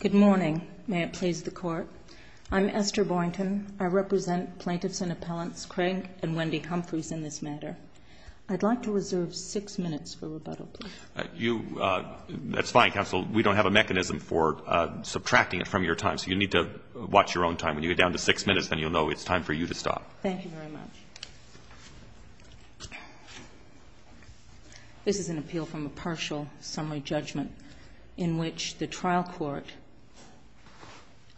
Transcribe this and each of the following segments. Good morning. May it please the Court. I'm Esther Boynton. I represent plaintiffs and appellants Craig and Wendy Humphries in this matter. I'd like to reserve six minutes for rebuttal, please. That's fine, Counsel. We don't have a mechanism for subtracting it from your time, so you need to watch your own time. When you get down to six minutes, then you'll know it's time for you to stop. Thank you very much. This is an appeal from a partial summary judgment in which the trial court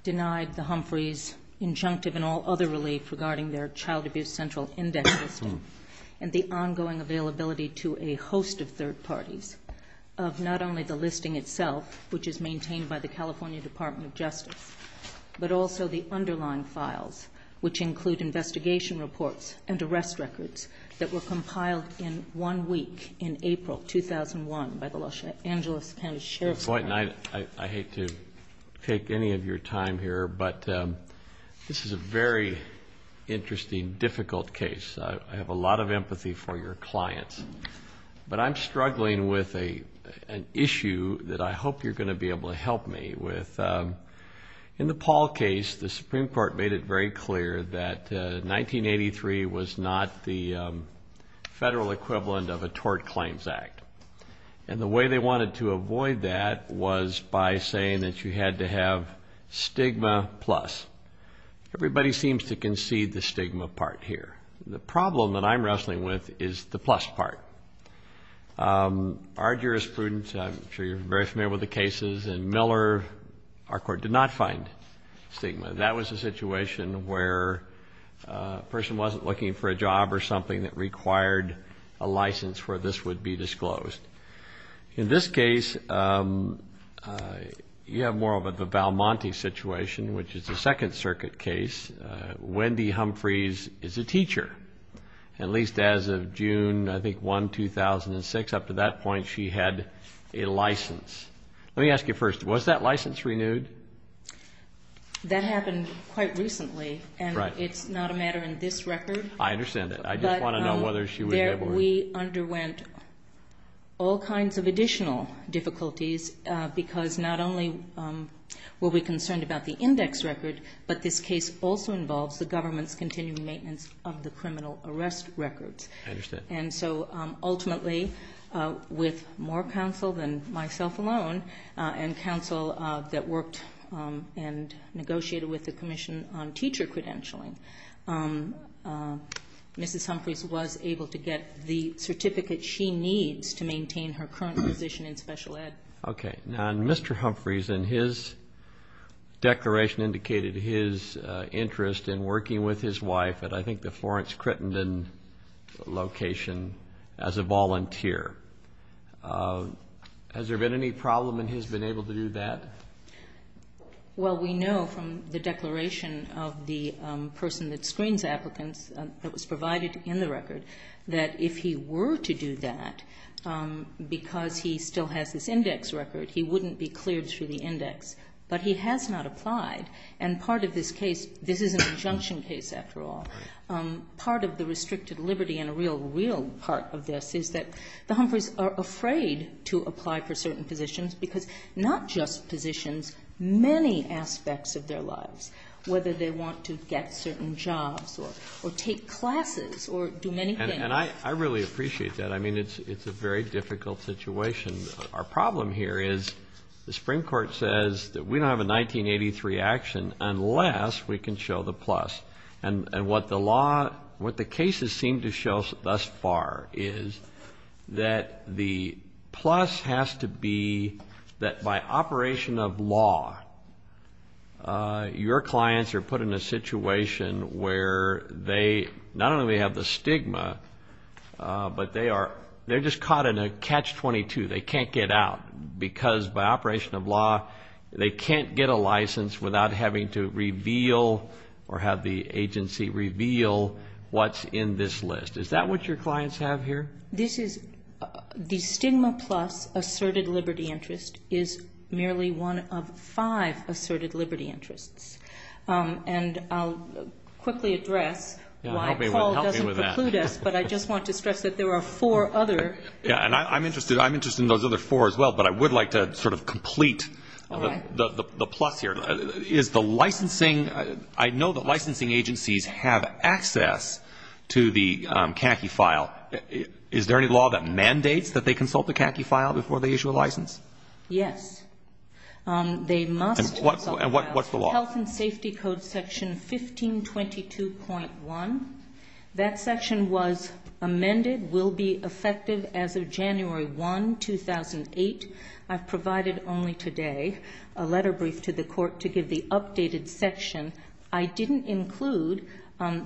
denied the Humphries' injunctive and all other relief regarding their Child Abuse Central Inventory List and the ongoing availability to a host of third parties of not only the listing itself, which is maintained by the California Department of Justice, but also the underlying files, which include investigation reports and arrest records that were compiled in one week in April 2001 by the Los Angeles Penn Sheriff's Department. Ms. Boynton, I hate to take any of your time here, but this is a very interesting, difficult case. I have a lot of empathy for your clients, but I'm struggling with an issue that I hope you're going to be able to help me with. In the Paul case, the Supreme Court made it very clear that 1983 was not the federal equivalent of a tort claims act, and the way they wanted to avoid that was by saying that you had to have stigma plus. Everybody seems to concede the stigma part here. The problem that I'm wrestling with is the plus part. Our jurisprudence, and I'm sure you're very familiar with the cases in Miller, our court did not find stigma. That was a situation where a person wasn't looking for a job or something that required a license where this would be disclosed. In this case, you have more of a Balmonte situation, which is the Second Circuit case. Wendy Humphreys is a teacher, at least as of June 1, 2006. Up to that point, she had a license. Let me ask you first, was that license renewed? That happened quite recently, and it's not a matter in this record. I understand that. I just want to know whether she was ever renewed. We underwent all kinds of additional difficulties because not only were we concerned about the index record, but this case also involves the government's continued maintenance of the criminal arrest record. I understand. Ultimately, with more counsel than myself alone, and counsel that worked and negotiated with the commission on teacher credentialing, Mrs. Humphreys was able to get the certificate she needs to maintain her current position in special ed. Okay. Now, Mr. Humphreys in his declaration indicated his interest in working with his wife at, I think, the Florence Crittenden location as a volunteer. Has there been any problem in his being able to do that? Well, we know from the declaration of the person that screens applicants that was provided in the record that if he were to do that, because he still has this index record, he wouldn't be cleared through the index. But he has not applied. And part of this case, this is an injunction case after all, part of the restricted liberty and a real, real part of this is that the Humphreys are afraid to apply for certain positions because not just positions, many aspects of their lives, whether they want to get certain jobs or take classes or do many things. And I really appreciate that. I mean, it's a very difficult situation. Our problem here is the Supreme Court says that we don't have a 1983 action unless we can show the plus. And what the law, what the cases seem to show thus far is that the plus has to be that by operation of law, your clients are put in a situation where they not only have the stigma, but they are just caught in a catch-22. They can't get out because by operation of law, they can't get a license without having to reveal or have the agency reveal what's in this list. Is that what your clients have here? This is the stigma plus asserted liberty interest is merely one of five asserted liberty interests. And I'll quickly address why Paul doesn't preclude us, but I just want to stress that there are four others. And I'm interested in those other four as well, but I would like to sort of complete the plus here. I know that licensing agencies have access to the CACI file. Is there any law that mandates that they consult the CACI file before they issue a license? Yes. And what's the law? Health and Safety Code Section 1522.1. That section was amended, will be effective as of January 1, 2008. I've provided only today a letter brief to the court to give the updated section. I didn't include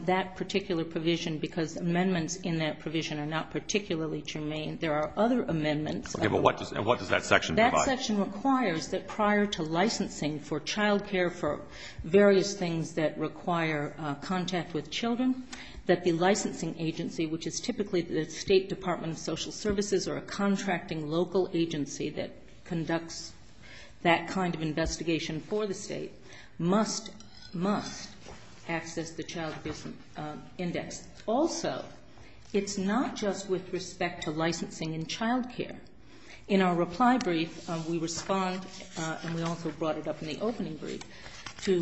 that particular provision because amendments in that provision are not particularly germane. There are other amendments. Okay, but what does that section provide? That section requires that prior to licensing for child care, for various things that require contact with children, that the licensing agency, which is typically the State Department of Social Services or a contracting local agency that conducts that kind of investigation for the state, must access the child care index. Also, it's not just with respect to licensing in child care. In our reply brief, we respond, and we also brought it up in the opening brief, to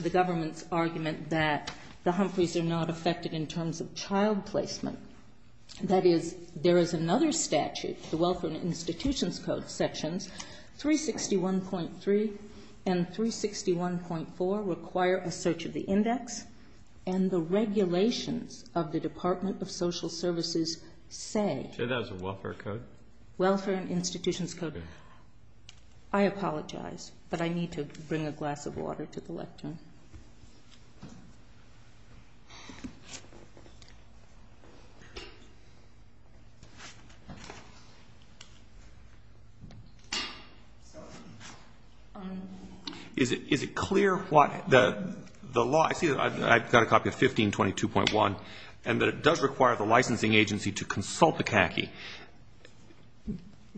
the government's argument that the Humphreys are not affected in terms of child placement. That is, there is another statute, the Welfare and Institutions Code Sections 361.3 and 361.4 require a search of the index, and the regulations of the Department of Social Services say... Is that a welfare code? Welfare and Institutions Code. I apologize, but I need to bring a glass of water to the left here. Is it clear what the law... I see that I've got a copy of 1522.1, and that it does require the licensing agency to consult the CACI,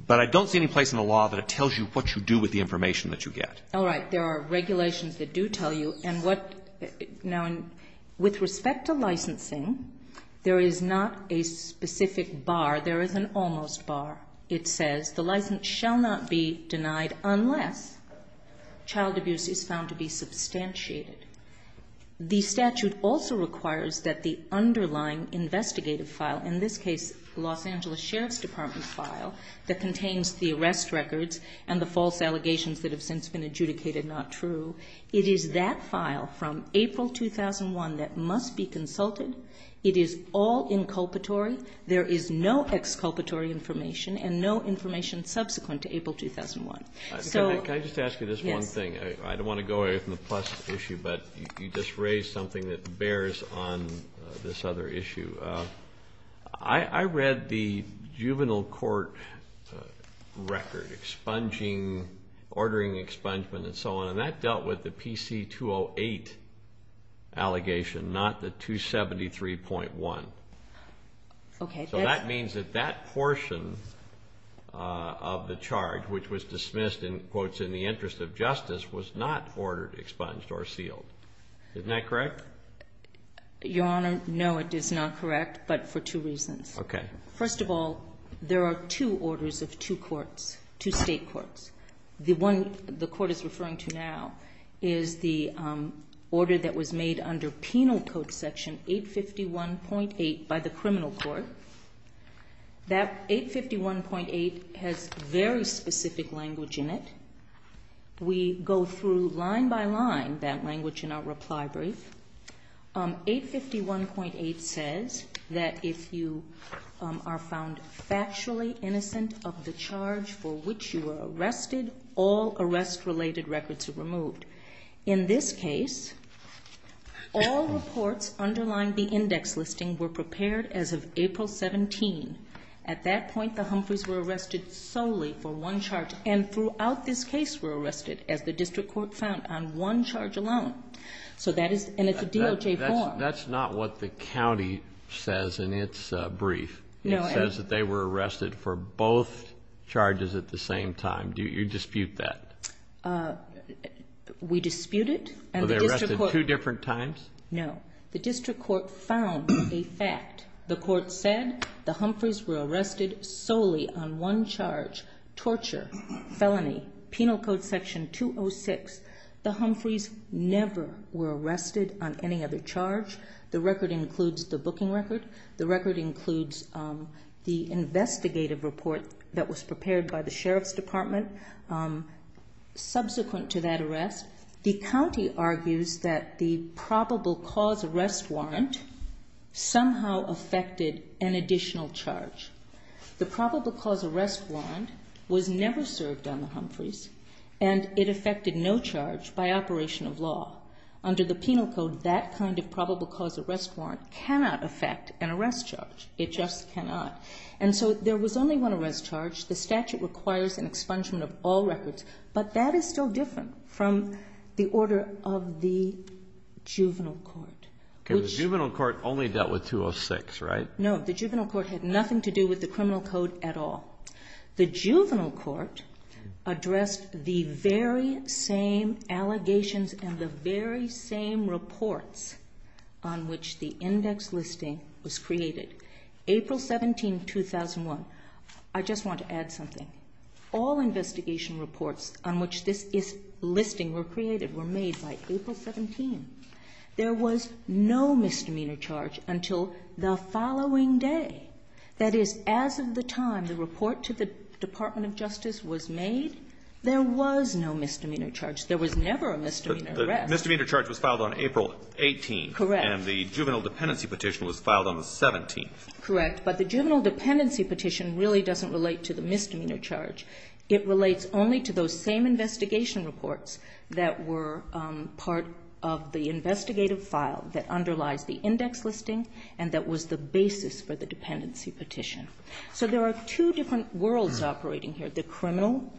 but I don't see any place in the law that it tells you what to do with the information that you get. All right, there are regulations that do tell you, and what... Now, with respect to licensing, there is not a specific bar. There is an almost bar. It says, the license shall not be denied unless child abuse is found to be substantiated. The statute also requires that the underlying investigative file, in this case, the Los Angeles Sheriff's Department file that contains the arrest records and the false allegations that have since been adjudicated not true, it is that file from April 2001 that must be consulted. It is all inculpatory. There is no exculpatory information and no information subsequent to April 2001. Can I just ask you this one thing? I don't want to go away from the plus issue, but you just raised something that bears on this other issue. I read the juvenile court record, ordering expungement and so on, and that dealt with the PC-208 allegation, not the 273.1. So that means that that portion of the charge, which was dismissed in quotes, in the interest of justice, was not ordered expunged or sealed. Isn't that correct? Your Honor, no, it is not correct, but for two reasons. First of all, there are two orders of two courts, two state courts. The one the court is referring to now is the order that was made under Penal Code Section 851.8 by the criminal court. That 851.8 has very specific language in it. We go through line by line that language in our reprisories. 851.8 says that if you are found factually innocent of the charge for which you were arrested, all arrest-related records are removed. In this case, all reports underlying the index listing were prepared as of April 17. At that point, the Humphreys were arrested solely for one charge, and throughout this case were arrested, as the district court found, on one charge alone. And it's a DOJ form. That's not what the county says in its brief. It says that they were arrested for both charges at the same time. Do you dispute that? We dispute it. Were they arrested two different times? No. The district court found a fact. The court said the Humphreys were arrested solely on one charge, torture, felony, Penal Code Section 206. The Humphreys never were arrested on any other charge. The record includes the booking record. The record includes the investigative report that was prepared by the Sheriff's Department subsequent to that arrest. The county argues that the probable cause arrest warrant somehow affected an additional charge. The probable cause arrest warrant was never served on the Humphreys, and it affected no charge by operation of law. Under the Penal Code, that kind of probable cause arrest warrant cannot affect an arrest charge. It just cannot. And so there was only one arrest charge. The statute requires an expungement of all records. But that is so different from the order of the juvenile court. The juvenile court only dealt with 206, right? No. The juvenile court had nothing to do with the criminal code at all. The juvenile court addressed the very same allegations and the very same reports on which the index listing was created. April 17, 2001. I just want to add something. All investigation reports on which this listing were created were made by April 17. There was no misdemeanor charge until the following day. That is, as of the time the report to the Department of Justice was made, there was no misdemeanor charge. There was never a misdemeanor arrest. The misdemeanor charge was filed on April 18. Correct. And the juvenile dependency petition was filed on the 17th. Correct. But the juvenile dependency petition really doesn't relate to the misdemeanor charge. It relates only to those same investigation reports that were part of the investigative file that underlies the index listing and that was the basis for the dependency petition. So there are two different worlds operating here. The criminal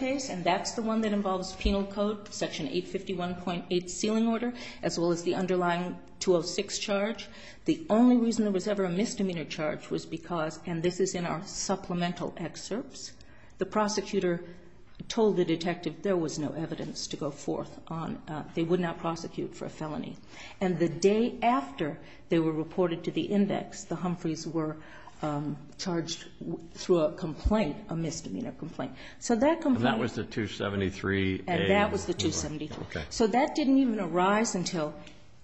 case, and that's the one that involves penal code, Section 851.8 ceiling order, as well as the underlying 206 charge. The only reason there was ever a misdemeanor charge was because, and this is in our supplemental excerpts, the prosecutor told the detective there was no evidence to go forth on. They would not prosecute for a felony. And the day after they were reported to the index, the Humphreys were charged through a complaint, a misdemeanor complaint. And that was the 273? And that was the 273. So that didn't even arise until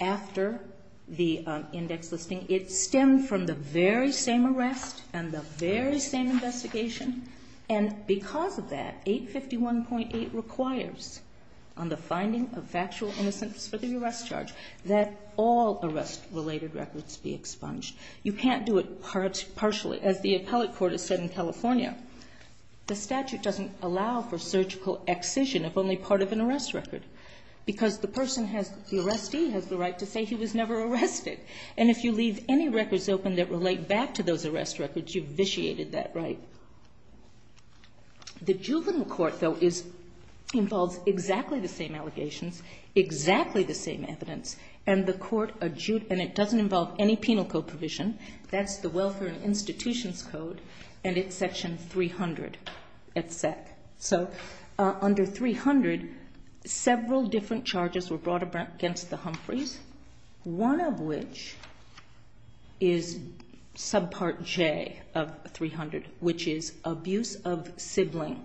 after the index listing. It stemmed from the very same arrest and the very same investigation. And because of that, 851.8 requires on the finding of factual innocence for the arrest charge that all arrest-related records be expunged. You can't do it partially. As the appellate court has said in California, the statute doesn't allow for surgical excision if only part of an arrest record. Because the arrestee has the right to say he was never arrested. And if you leave any records open that relate back to those arrest records, you've vitiated that right. The juvenile court, though, involves exactly the same allegations, exactly the same evidence, and it doesn't involve any penal code provision. That's the Welfare and Institutions Code, and it's section 300 at SEC. So under 300, several different charges were brought against the Humphreys, one of which is subpart J of 300, which is abuse of sibling.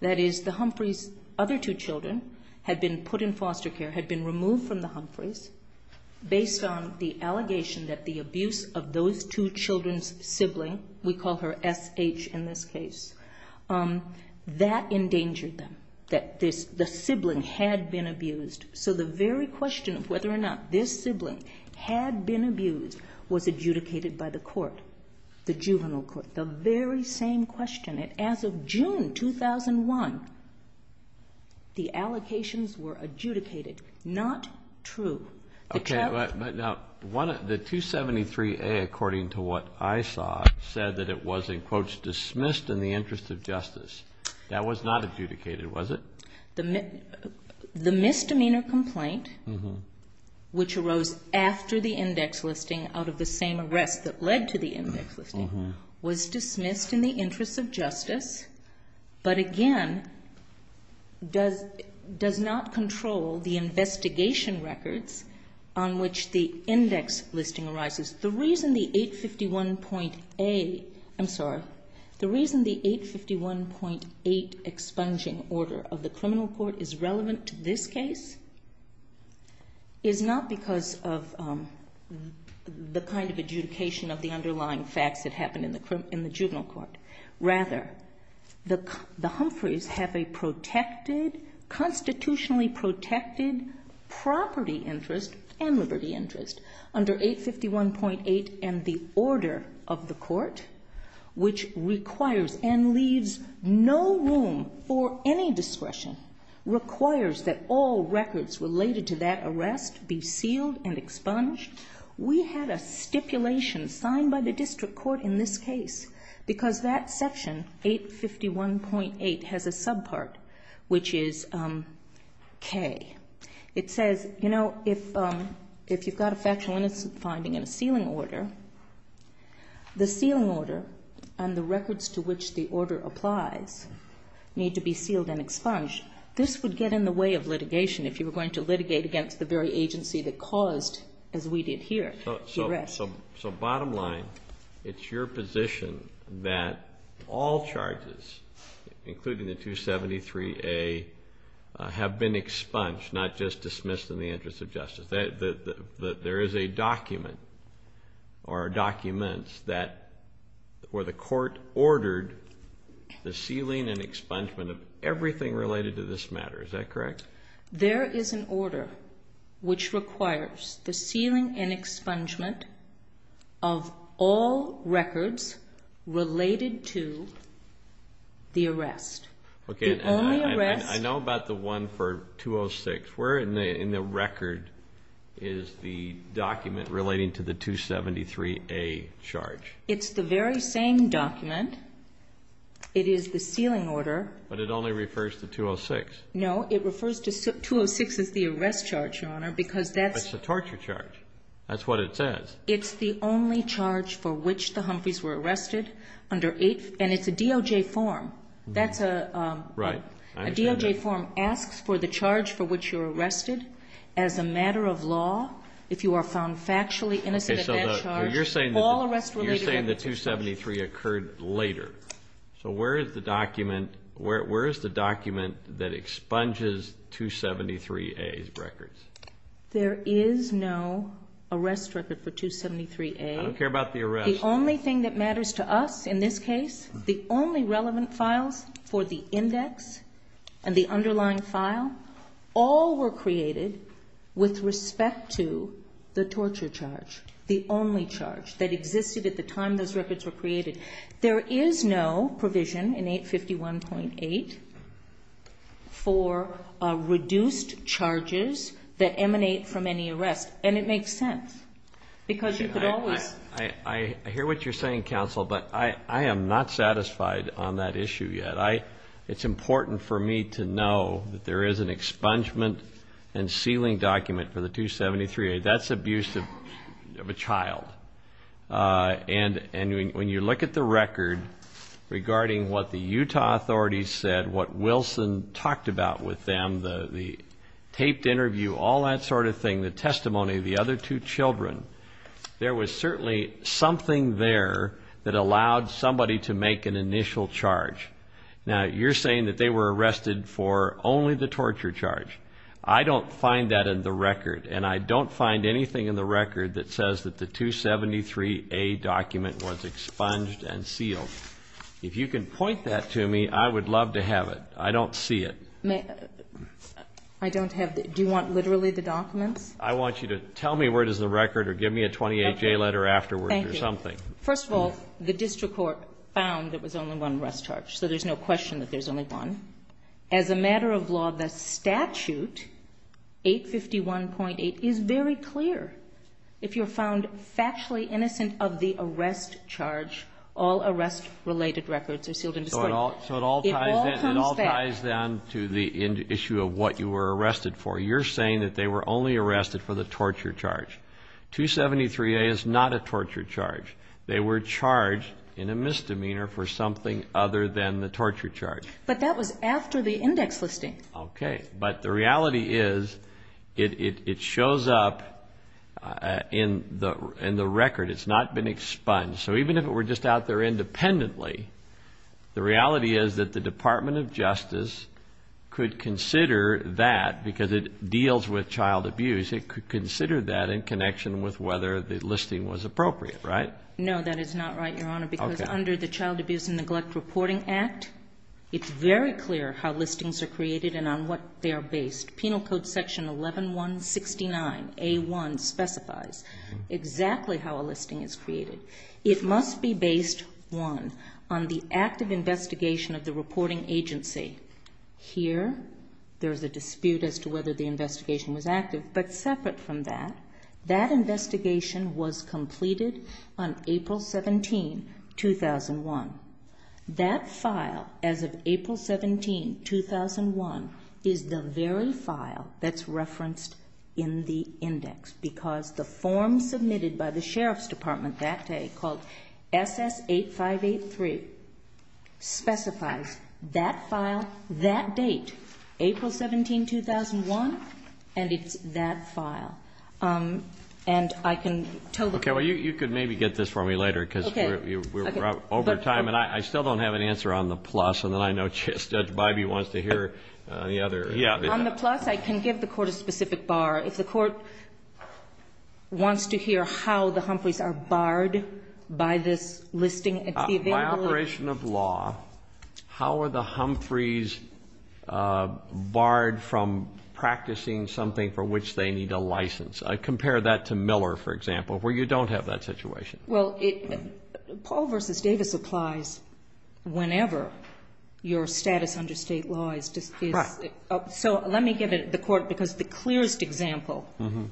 That is, the Humphreys' other two children had been put in foster care, had been removed from the Humphreys, based on the allegation that the abuse of those two children's sibling, we call her SH in this case, that endangered them. That the sibling had been abused. So the very question of whether or not this sibling had been abused was adjudicated by the court, the juvenile court. It's the very same question. As of June 2001, the allocations were adjudicated. Not true. Now, the 273A, according to what I saw, said that it was, in quotes, dismissed in the interest of justice. That was not adjudicated, was it? The misdemeanor complaint, which arose after the index listing out of the same arrest that led to the index listing, was dismissed in the interest of justice, but again, does not control the investigation records on which the index listing arises. The reason the 851.8 expunging order of the criminal court is relevant to this case is not because of the kind of adjudication of the underlying facts that happened in the juvenile court. Rather, the Humphreys have a constitutionally protected property interest and liberty interest under 851.8 and the order of the court, which requires and leaves no room for any discretion, requires that all records related to that arrest be sealed and expunged. We have a stipulation signed by the district court in this case because that section, 851.8, has a subpart, which is K. It says, you know, if you've got a factual innocent finding and a sealing order, the sealing order and the records to which the order applies need to be sealed and expunged. This would get in the way of litigation if you were going to litigate against the very agency that caused, as we did here, the arrest. So bottom line, it's your position that all charges, including the 273A, have been expunged, not just dismissed in the interest of justice. There is a document or documents where the court ordered the sealing and expungement of everything related to this matter. Is that correct? There is an order which requires the sealing and expungement of all records related to the arrest. I know about the one for 206. Where in the record is the document relating to the 273A charge? It's the very same document. It is the sealing order. But it only refers to 206. No, it refers to 206 as the arrest charge, Your Honor. That's the torture charge. That's what it says. It's the only charge for which the Humphreys were arrested, and it's a DOJ form. A DOJ form asks for the charge for which you're arrested as a matter of law if you are found factually innocent of that charge. You're saying the 273 occurred later. So where is the document that expunges 273A's records? There is no arrest record for 273A. I don't care about the arrest. The only thing that matters to us in this case, the only relevant file for the index and the underlying file, all were created with respect to the torture charge. The only charge that existed at the time those records were created. There is no provision in 851.8 for reduced charges that emanate from any arrest, and it makes sense because you could always. I hear what you're saying, counsel, but I am not satisfied on that issue yet. It's important for me to know that there is an expungement and sealing document for the 273A. That's abuse of a child. And when you look at the record regarding what the Utah authorities said, what Wilson talked about with them, the taped interview, all that sort of thing, the testimony of the other two children, there was certainly something there that allowed somebody to make an initial charge. Now, you're saying that they were arrested for only the torture charge. I don't find that in the record, and I don't find anything in the record that says that the 273A document was expunged and sealed. If you can point that to me, I would love to have it. I don't see it. I don't have it. Do you want literally the document? I want you to tell me where it is in the record or give me a 28-J letter afterwards or something. Thank you. First of all, the district court found that there was only one arrest charge, so there's no question that there's only one. As a matter of law, the statute, 851.8, is very clear. If you're found factually innocent of the arrest charge, all arrest-related records are sealed in the district. So it all ties down to the issue of what you were arrested for. You're saying that they were only arrested for the torture charge. 273A is not a torture charge. They were charged in a misdemeanor for something other than the torture charge. But that was after the index listing. Okay. But the reality is it shows up in the record. It's not been expunged. So even if it were just out there independently, the reality is that the Department of Justice could consider that, because it deals with child abuse, it could consider that in connection with whether the listing was appropriate, right? No, that is not right, Your Honor. Okay. If you consider the Child Abuse and Neglect Reporting Act, it's very clear how listings are created and on what they are based. Penal Code Section 11169A1 specifies exactly how a listing is created. It must be based, one, on the active investigation of the reporting agency. Here, there's a dispute as to whether the investigation was active, but separate from that, that investigation was completed on April 17, 2001. That file, as of April 17, 2001, is the very file that's referenced in the index, because the form submitted by the Sheriff's Department that day called SS-8583 specifies that file, that date, April 17, 2001, and it's that file. And I can totally... Okay, well, you can maybe get this for me later, because we're over time, and I still don't have an answer on the plus, and then I know Judge Bybee wants to hear the other... On the plus, I can give the Court a specific bar. If the Court wants to hear how the Humphreys are barred by this listing... By operation of law, how are the Humphreys barred from practicing something for which they need a license? Compare that to Miller, for example, where you don't have that situation. Well, Paul v. Davis applies whenever your status under state law is defeated. Right. So let me give it to the Court, because the clearest example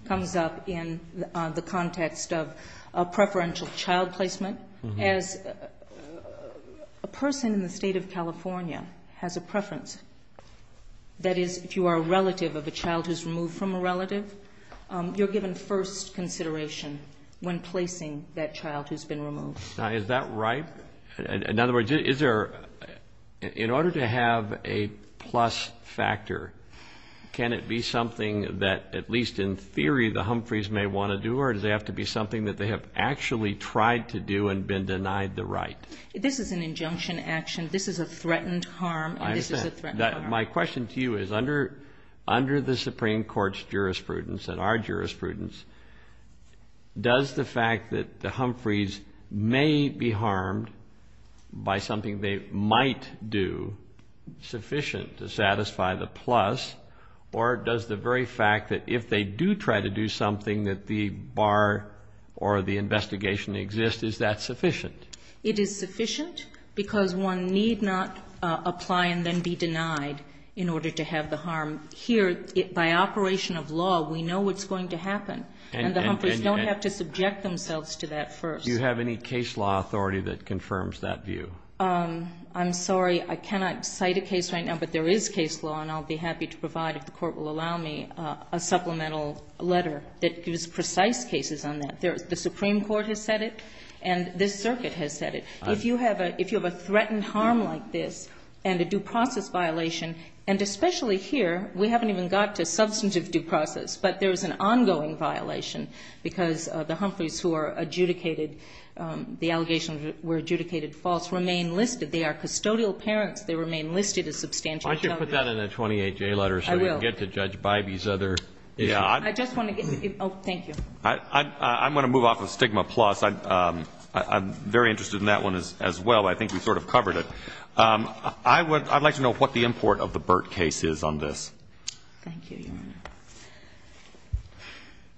comes up in the context of a preferential child placement. As a person in the state of California has a preference, that is, if you are a relative of a child who's removed from a relative, you're given first consideration when placing that child who's been removed. Now, is that right? In other words, in order to have a plus factor, can it be something that, at least in theory, the Humphreys may want to do, or does it have to be something that they have actually tried to do and been denied the right? This is an injunction action. This is a threatened harm. I understand. This is a threatened harm. My question to you is, under the Supreme Court's jurisprudence and our jurisprudence, does the fact that the Humphreys may be harmed by something they might do sufficient to satisfy the plus, or does the very fact that if they do try to do something that the bar or the investigation exists, is that sufficient? It is sufficient, because one need not apply and then be denied in order to have the harm. Here, by operation of law, we know what's going to happen, and the Humphreys don't have to subject themselves to that first. Do you have any case law authority that confirms that view? I'm sorry, I cannot cite a case right now, but there is case law, and I'll be happy to provide, if the Court will allow me, a supplemental letter that gives precise cases on that. The Supreme Court has said it, and this circuit has said it. If you have a threatened harm like this and a due process violation, and especially here, we haven't even got to substantive due process, but there is an ongoing violation because the Humphreys who are adjudicated, the allegations were adjudicated false, remain listed. They are custodial parents. They remain listed as substantial. Why don't you put that in the 28-J letter so you can get to judge by these other. I just want to give, oh, thank you. I'm going to move off of stigma plus. I'm very interested in that one as well. I think we sort of covered it. I'd like to know what the import of the Burt case is on this. Thank you.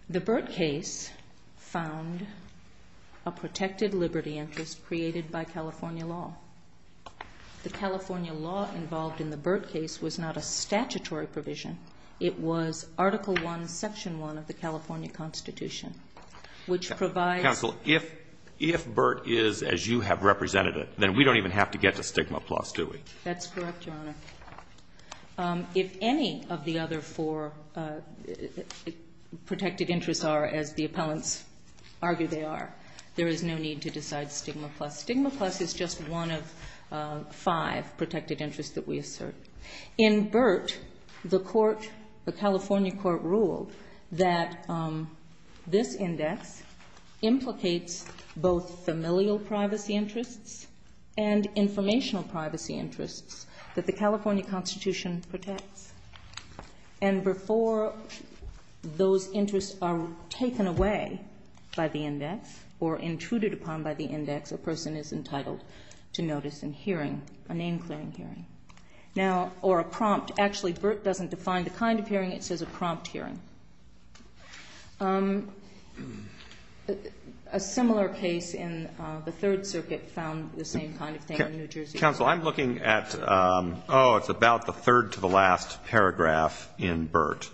The Burt case found a protected liberty interest created by California law. The California law involved in the Burt case was not a statutory provision. It was Article I, Section I of the California Constitution, which provides. Counsel, if Burt is as you have represented it, then we don't even have to get to stigma plus, do we? That's correct, Your Honor. If any of the other four protected interests are as the opponents argue they are, there is no need to decide stigma plus. Stigma plus is just one of five protected interests that we assert. In Burt, the California court ruled that this index implicates both familial privacy interests and informational privacy interests that the California Constitution protects. And before those interests are taken away by the index or intruded upon by the index, a person is entitled to notice and hearing, an inquiry and hearing. Now, or a prompt. Actually, Burt doesn't define the kind of hearing. It says a prompt hearing. A similar case in the Third Circuit found the same kind of thing in New Jersey. Counsel, I'm looking at, oh, it's about the third to the last paragraph in Burt.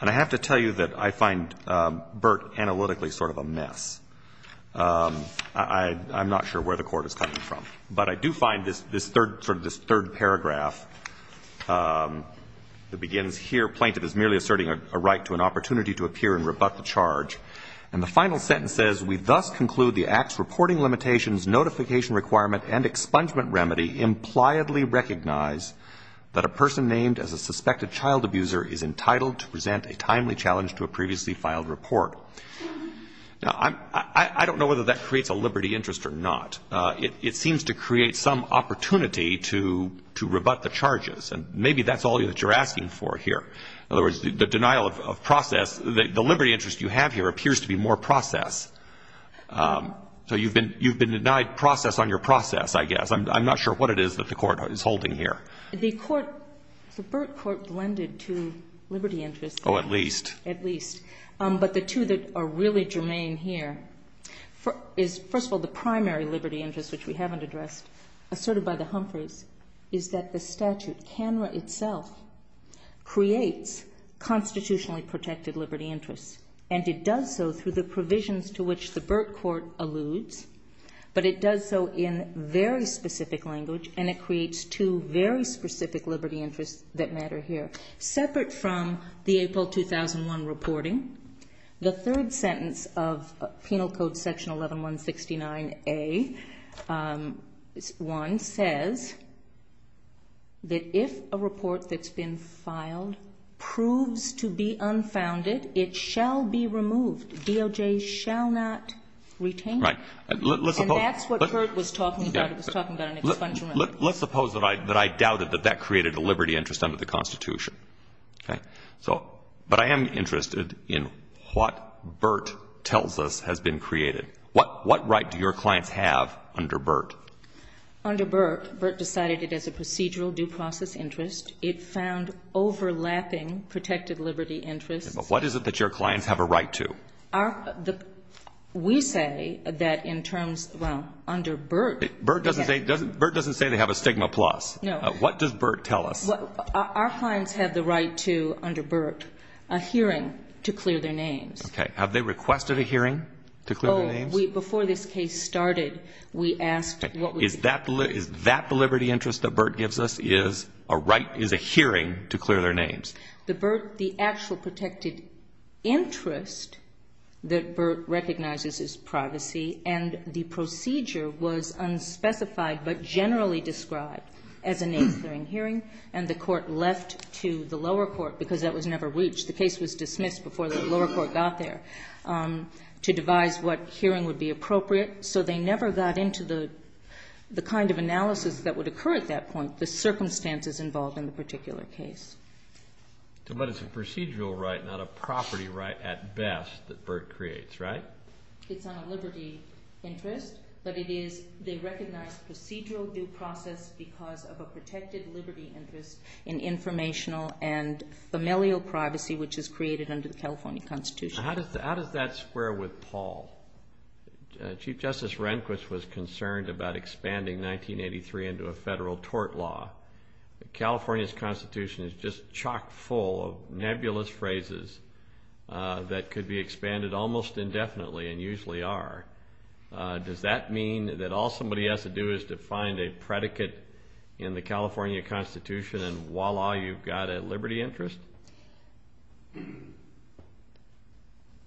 And I have to tell you that I find Burt analytically sort of a mess. I'm not sure where the court is coming from. But I do find this third paragraph that begins here, plaintiff is merely asserting a right to an opportunity to appear and rebut the charge. And the final sentence says, we thus conclude the act's reporting limitations, notification requirement, and expungement remedy impliedly recognize that a person named as a suspected child abuser is entitled to present a timely challenge to a previously filed report. Now, I don't know whether that creates a liberty interest or not. It seems to create some opportunity to rebut the charges. And maybe that's all that you're asking for here. In other words, the denial of process, the liberty interest you have here appears to be more process. So you've been denied process on your process, I guess. I'm not sure what it is that the court is holding here. The Burt court blended two liberty interests. Oh, at least. At least. But the two that are really germane here is, first of all, the primary liberty interest, which we haven't addressed, asserted by the Humphreys, is that the statute tenra itself creates constitutionally protected liberty interests. And it does so through the provisions to which the Burt court alludes. But it does so in very specific language, and it creates two very specific liberty interests that matter here. Separate from the April 2001 reporting, the third sentence of Penal Code Section 11169A, 1, says that if a report that's been filed proves to be unfounded, it shall be removed. DOJ shall not retain it. And that's what Burt was talking about. Let's suppose that I doubted that that created a liberty interest under the Constitution. But I am interested in what Burt tells us has been created. What right do your clients have under Burt? Under Burt, Burt decided it as a procedural due process interest. It found overlapping protected liberty interests. But what is it that your clients have a right to? We say that in terms, well, under Burt. Burt doesn't say they have a stigma plus. No. What does Burt tell us? Our clients have the right to, under Burt, a hearing to clear their names. Okay. Have they requested a hearing to clear their names? Oh, before this case started, we asked. Is that the liberty interest that Burt gives us, is a hearing to clear their names? The actual protected interest that Burt recognizes is privacy. And the procedure was unspecified but generally described as a name-clearing hearing. And the court left to the lower court, because that was never reached. The case was dismissed before the lower court got there, to devise what hearing would be appropriate. So they never got into the kind of analysis that would occur at that point, the circumstances involved in the particular case. But it's a procedural right, not a property right, at best, that Burt creates, right? It's not a liberty interest. But they recognize procedural due process because of a protected liberty interest in informational and familial privacy, which is created under the California Constitution. How does that square with Paul? Chief Justice Rehnquist was concerned about expanding 1983 into a federal tort law. California's Constitution is just chock full of nebulous phrases that could be expanded almost indefinitely and usually are. Does that mean that all somebody has to do is to find a predicate in the California Constitution and voila, you've got a liberty interest?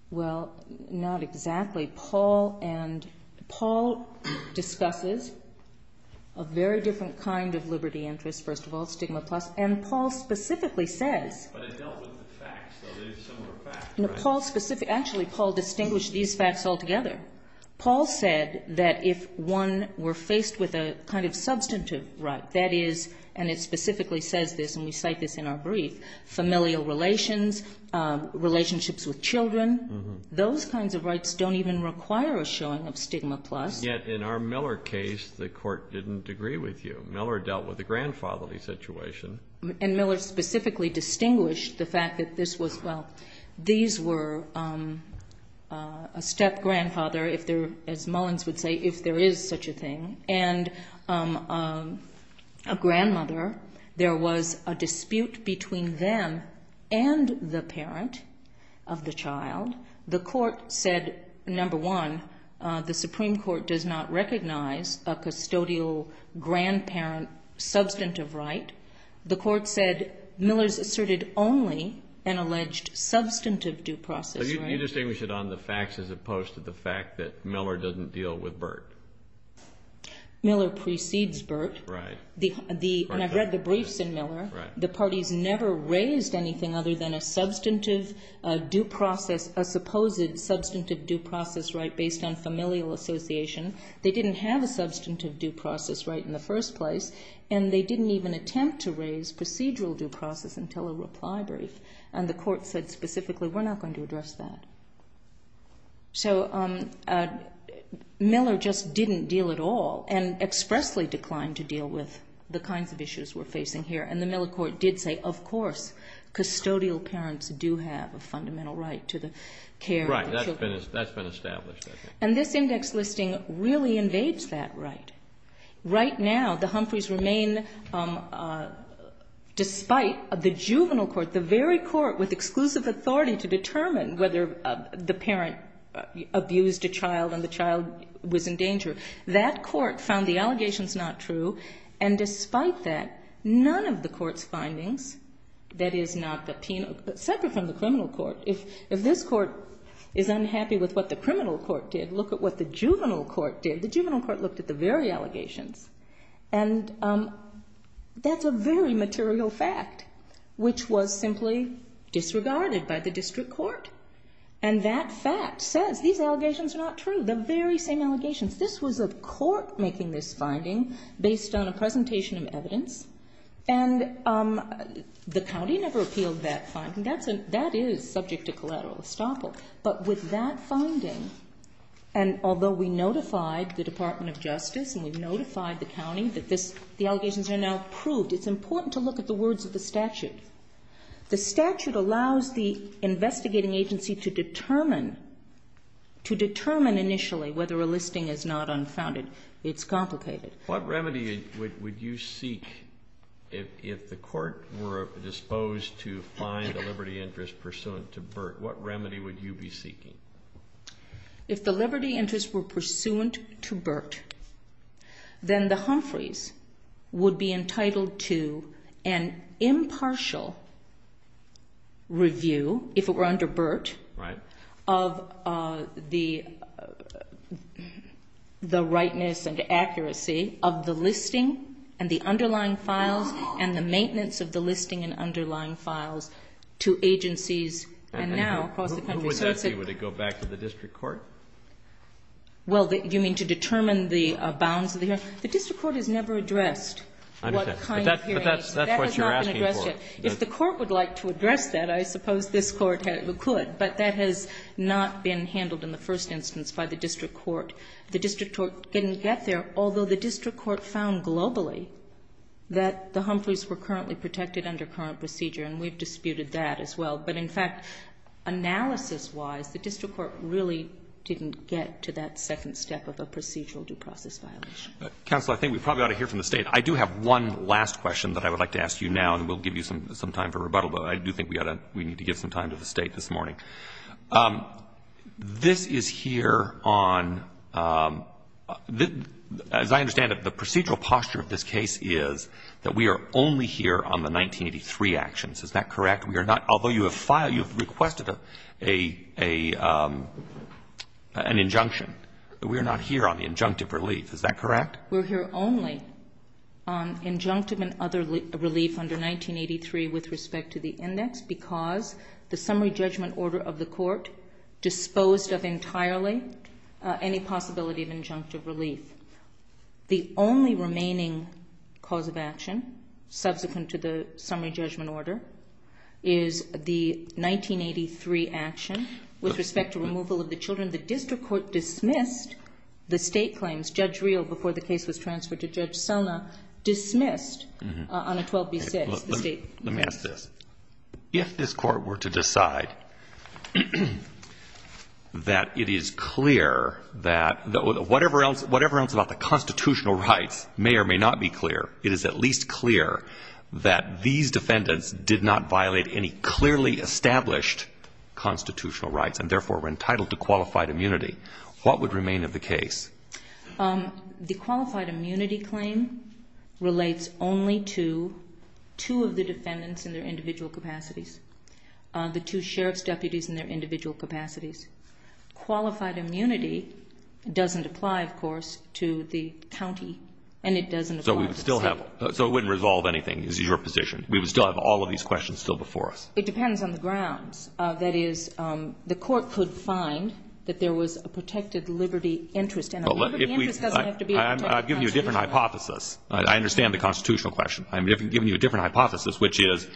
Well, not exactly. Paul discusses a very different kind of liberty interest, first of all, stigma plus. And Paul specifically said... But it dealt with the facts. Well, there are similar facts, right? Actually, Paul distinguished these facts altogether. Paul said that if one were faced with a kind of substantive right, that is, and it specifically says this, and we cite this in our brief, familial relations, relationships with children, those kinds of rights don't even require a showing of stigma plus. Yet in our Miller case, the court didn't agree with you. Miller dealt with a grandfatherly situation. And Miller specifically distinguished the fact that these were a step-grandfather, as Mullins would say, if there is such a thing, and a grandmother, there was a dispute between them and the parent of the child. The court said, number one, the Supreme Court does not recognize a custodial grandparent substantive right. The court said Miller's asserted only an alleged substantive due process right. Can you distinguish it on the facts as opposed to the fact that Miller doesn't deal with Burt? Miller precedes Burt. And I've read the briefs in Miller. The parties never raised anything other than a substantive due process, a supposed substantive due process right based on familial association. They didn't have a substantive due process right in the first place, and they didn't even attempt to raise procedural due process until a reply brief. And the court said specifically, we're not going to address that. So Miller just didn't deal at all and expressly declined to deal with the kinds of issues we're facing here. And the Miller court did say, of course, custodial parents do have a fundamental right to the care. Right, that's been established. And this index listing really invades that right. Right now, the Humphreys remain, despite the juvenile court, the very court with exclusive authority to determine whether the parent abused a child and the child was in danger, that court found the allegations not true. And despite that, none of the court's findings, that is not subpoenaed, separate from the criminal court, if this court is unhappy with what the criminal court did, look at what the juvenile court did. The juvenile court looked at the very allegations. And that's a very material fact, which was simply disregarded by the district court. And that fact says these allegations are not true, the very same allegations. This was a court making this finding based on a presentation of evidence, and the county never appealed that finding. That is subject to collateral estoppel. But with that finding, and although we notified the Department of Justice and we notified the county that the allegations are now proved, it's important to look at the words of the statute. The statute allows the investigating agency to determine initially whether a listing is not unfounded. It's complicated. What remedy would you seek if the court were disposed to find a liberty interest pursuant to Burt? What remedy would you be seeking? If the liberty interest were pursuant to Burt, then the Humphreys would be entitled to an impartial review, if it were under Burt, of the rightness and accuracy of the listing and the underlying files and the maintenance of the listing and underlying files to agencies. Who would that be? Would it go back to the district court? Well, do you mean to determine the bounds of the hearing? The district court has never addressed what kind of hearing. But that's what you're asking for. If the court would like to address that, I suppose this court could. But that has not been handled in the first instance by the district court. The district court didn't get there, although the district court found globally that the Humphreys were currently protected under current procedure, and we've disputed that as well. But, in fact, analysis-wise, the district court really didn't get to that second step of the procedural due process filing. Counsel, I think we probably ought to hear from the State. I do have one last question that I would like to ask you now, and we'll give you some time for rebuttal, but I do think we need to give some time to the State this morning. This is here on, as I understand it, the procedural posture of this case is that we are only here on the 1983 actions. Is that correct? Although you have requested an injunction, we are not here on the injunctive relief. Is that correct? We're here only on injunctive and other relief under 1983 with respect to the index because the summary judgment order of the court disposed of entirely any possibility of injunctive relief. The only remaining cause of action subsequent to the summary judgment order is the 1983 action with respect to removal of the children. The district court dismissed the State claims. Judge Reel, before the case was transferred to Judge Sona, dismissed on a 12-B-5 the State claims. Let me ask this. If this court were to decide that it is clear that whatever else about the constitutional rights may or may not be clear, it is at least clear that these defendants did not violate any clearly established constitutional rights and therefore were entitled to qualified immunity, what would remain of the case? The qualified immunity claim relates only to two of the defendants in their individual capacities, the two sheriff's deputies in their individual capacities. Qualified immunity doesn't apply, of course, to the county. So it wouldn't resolve anything is your position. We would still have all of these questions still before us. It depends on the grounds. That is, the court could find that there was a protected liberty interest. I've given you a different hypothesis. I understand the constitutional question. I've given you a different hypothesis, which is,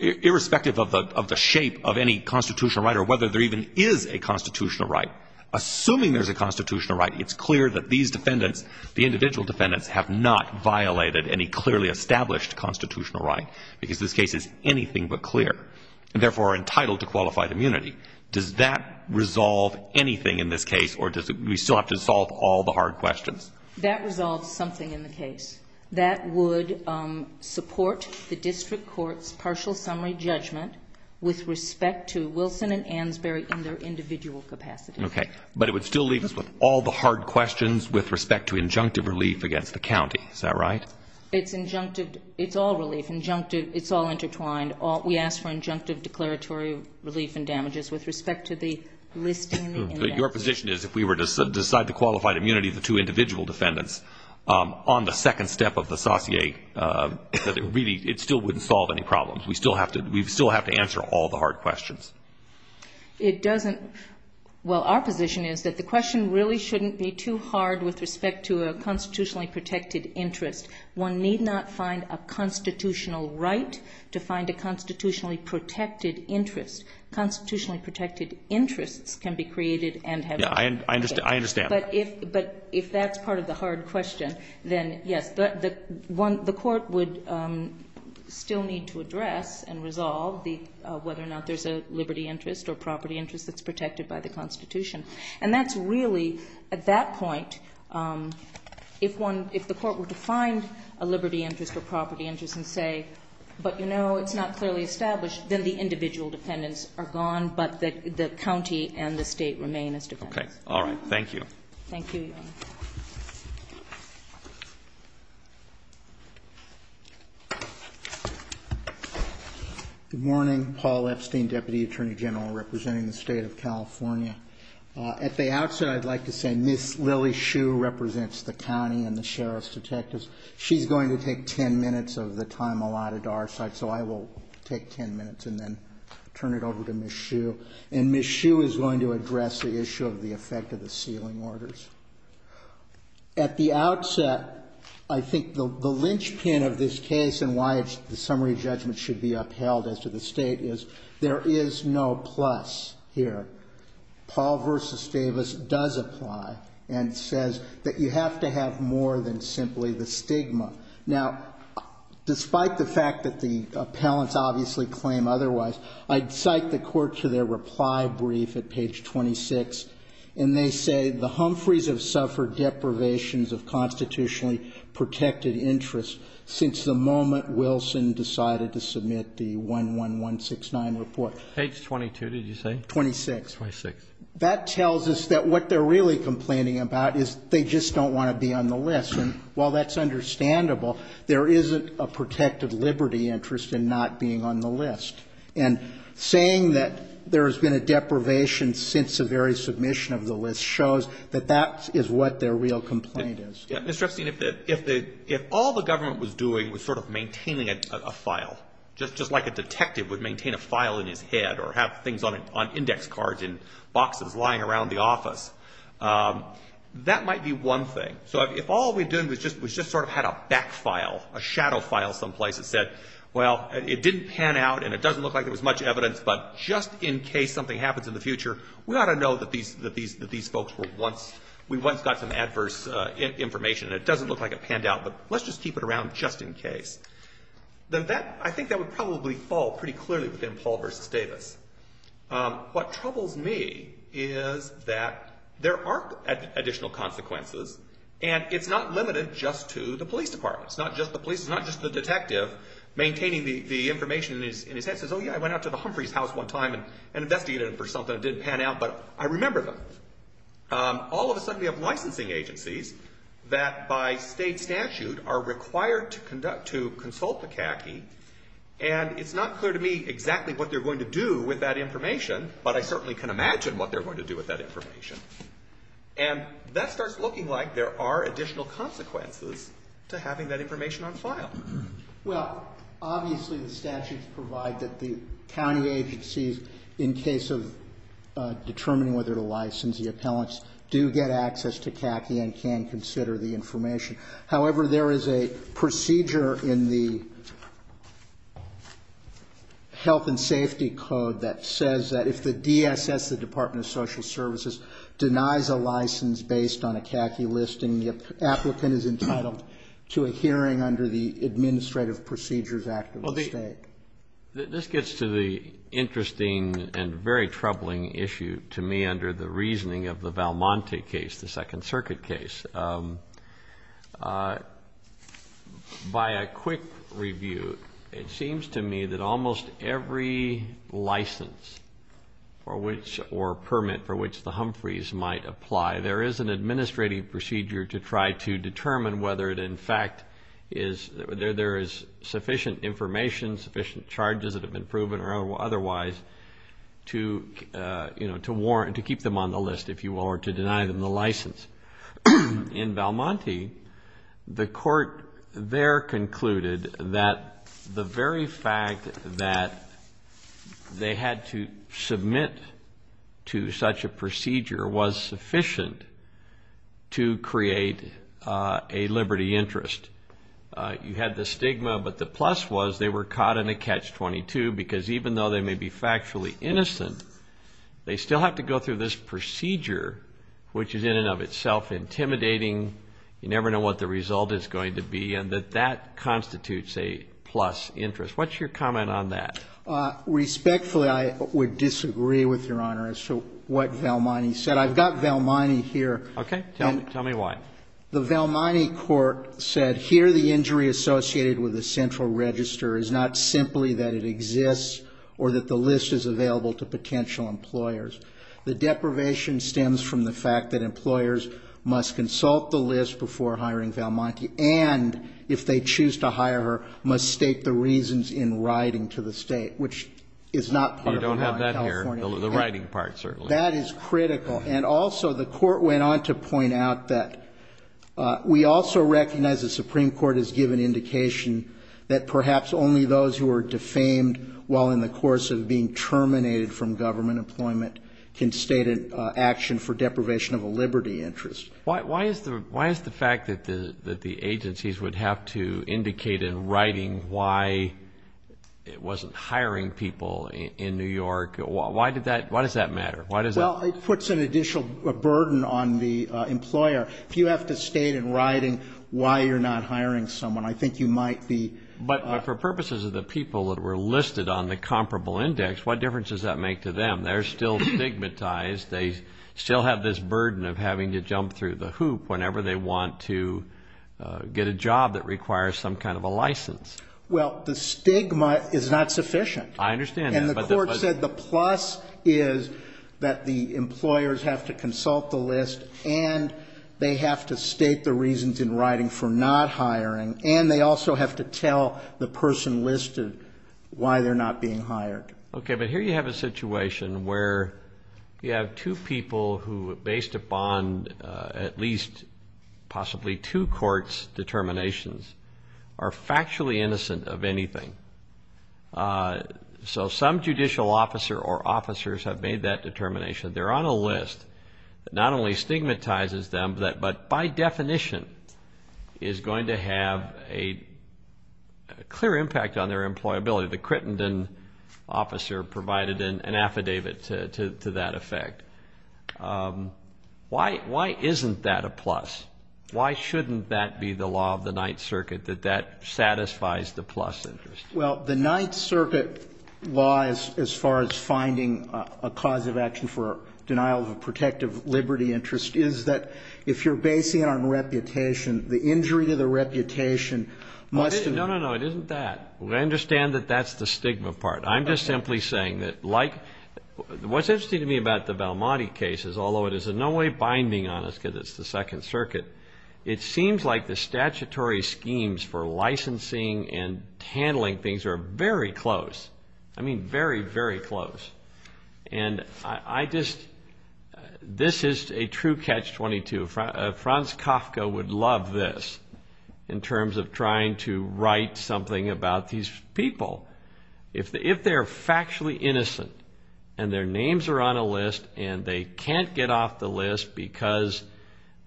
irrespective of the shape of any constitutional right or whether there even is a constitutional right, assuming there's a constitutional right, it's clear that these defendants, the individual defendants, have not violated any clearly established constitutional right because this case is anything but clear and therefore are entitled to qualified immunity. Does that resolve anything in this case, or do we still have to solve all the hard questions? That resolves something in the case. That would support the district court's partial summary judgment with respect to Wilson and Ansberry in their individual capacity. Okay. But it would still leave us with all the hard questions with respect to injunctive relief against the county. Is that right? It's injunctive. It's all relief. Injunctive. It's all intertwined. We ask for injunctive declaratory relief and damages with respect to the listing and damages. But your position is, if we were to decide the qualified immunity of the two individual defendants, on the second step of the sauté, it still wouldn't solve any problems. We'd still have to answer all the hard questions. It doesn't. Well, our position is that the question really shouldn't be too hard with respect to a constitutionally protected interest. One need not find a constitutional right to find a constitutionally protected interest. Constitutionally protected interests can be created. I understand. But if that's part of the hard question, then yes, the court would still need to address and resolve whether or not there's a liberty interest or property interest that's protected by the constitution. And that's really, at that point, if the court were to find a liberty interest or property interest and say, but no, it's not clearly established, then the individual defendants are gone, but the county and the state remain as defendants. Okay. All right. Thank you. Thank you. Good morning. Paul Epstein, Deputy Attorney General, representing the state of California. At the outset, I'd like to say Ms. Lily Hsu represents the county and the sheriff's detectives. She's going to take 10 minutes of the time allotted to our side, so I will take 10 minutes and then turn it over to Ms. Hsu. And Ms. Hsu is going to address the issue of the effect of the sealing orders. At the outset, I think the linchpin of this case and why the summary judgment should be upheld as to the state is there is no plus here. Paul v. Davis does apply and says that you have to have more than simply the stigma. Now, despite the fact that the appellants obviously claim otherwise, I cite the court to their reply brief at page 26, and they say the Humphreys have suffered deprivations of constitutionally protected interests since the moment Wilson decided to submit the 11169 report. Page 22, did you say? 26. 26. That tells us that what they're really complaining about is they just don't want to be on the list. there isn't a protected liberty interest in not being on the list. And saying that there has been a deprivation since the very submission of the list shows that that is what their real complaint is. Mr. Epstein, if all the government was doing was sort of maintaining a file, just like a detective would maintain a file in his head or have things on index cards in boxes lying around the office, that might be one thing. So if all they're doing was just sort of had a back file, a shadow file someplace that said, well, it didn't pan out, and it doesn't look like there was much evidence, but just in case something happens in the future, we ought to know that these folks were once... we once got some adverse information, and it doesn't look like it panned out, but let's just keep it around just in case. I think that would probably fall pretty clearly within Paul v. Davis. What troubles me is that there are additional consequences, and it's not limited just to the police department. It's not just the police, it's not just the detective. So maintaining the information in his head says, oh, yeah, I went out to the Humphreys' house one time and investigated it for something that did pan out, but I remember those. All of a sudden you have licensing agencies that by state statute are required to consult the CACI, and it's not clear to me exactly what they're going to do with that information, but I certainly can imagine what they're going to do with that information. And that starts looking like there are additional consequences to having that information on file. Well, obviously the statutes provide that the county agencies in case of determining whether to license the appellants do get access to CACI and can consider the information. However, there is a procedure in the Health and Safety Code that says that if the DSS, the Department of Social Services, denies a license based on a CACI listing, the applicant is entitled to a hearing under the Administrative Procedures Act of the state. This gets to the interesting and very troubling issue to me under the reasoning of the Valmonte case, the Second Circuit case. By a quick review, it seems to me that almost every license or permit for which the Humphreys might apply, there is an administrative procedure to try to determine whether in fact there is sufficient information, sufficient charges that have been proven or otherwise to keep them on the list, if you will, or to deny them the license. In Valmonte, the court there concluded that the very fact that they had to submit to such a procedure was sufficient to create a liberty interest. You had the stigma, but the plus was they were caught in a Catch-22, because even though they may be factually innocent, they still have to go through this procedure, which is in and of itself intimidating. You never know what the result is going to be, and that that constitutes a plus interest. What's your comment on that? Respectfully, I would disagree with Your Honor as to what Valmonte said. I've got Valmonte here. Okay, tell me why. The Valmonte court said, here the injury associated with a central register is not simply that it exists or that the list is available to potential employers. The deprivation stems from the fact that employers must consult the list before hiring Valmonte, and if they choose to hire her, must state the reasons in writing to the state, which is not... We don't have that here, the writing part, certainly. That is critical, and also the court went on to point out that we also recognize the Supreme Court has given indication that perhaps only those who are defamed while in the course of being terminated from government employment can state an action for deprivation of a liberty interest. Why is the fact that the agencies would have to indicate in writing why it wasn't hiring people in New York? Why does that matter? Well, it puts an additional burden on the employer. If you have to state in writing why you're not hiring someone, I think you might be... But for purposes of the people that were listed on the comparable index, what difference does that make to them? They're still stigmatized. They still have this burden of having to jump through the hoop whenever they want to get a job that requires some kind of a license. Well, the stigma is not sufficient. I understand that, but... And the court said the plus is that the employers have to consult the list and they have to state the reasons in writing for not hiring, and they also have to tell the person listed Okay, but here you have a situation where you have two people who, based upon at least possibly two courts' determinations, are factually innocent of anything. So some judicial officer or officers have made that determination. They're on a list that not only stigmatizes them, but by definition is going to have a clear impact on their employability. The Crittenden officer provided an affidavit to that effect. Why isn't that a plus? Why shouldn't that be the law of the Ninth Circuit, that that satisfies the plus interest? Well, the Ninth Circuit law, as far as finding a cause of action for denial of a protective liberty interest, is that if you're basing it on reputation, the injury to the reputation must... No, no, no, it isn't that. I understand that that's the stigma part. I'm just simply saying that, like... What's interesting to me about the Belmonte case is, although it is in no way binding on us because it's the Second Circuit, it seems like the statutory schemes for licensing and handling things are very close. I mean, very, very close. And I just... This is a true catch-22. Franz Kafka would love this in terms of trying to write something about these people. If they're factually innocent, and their names are on a list, and they can't get off the list because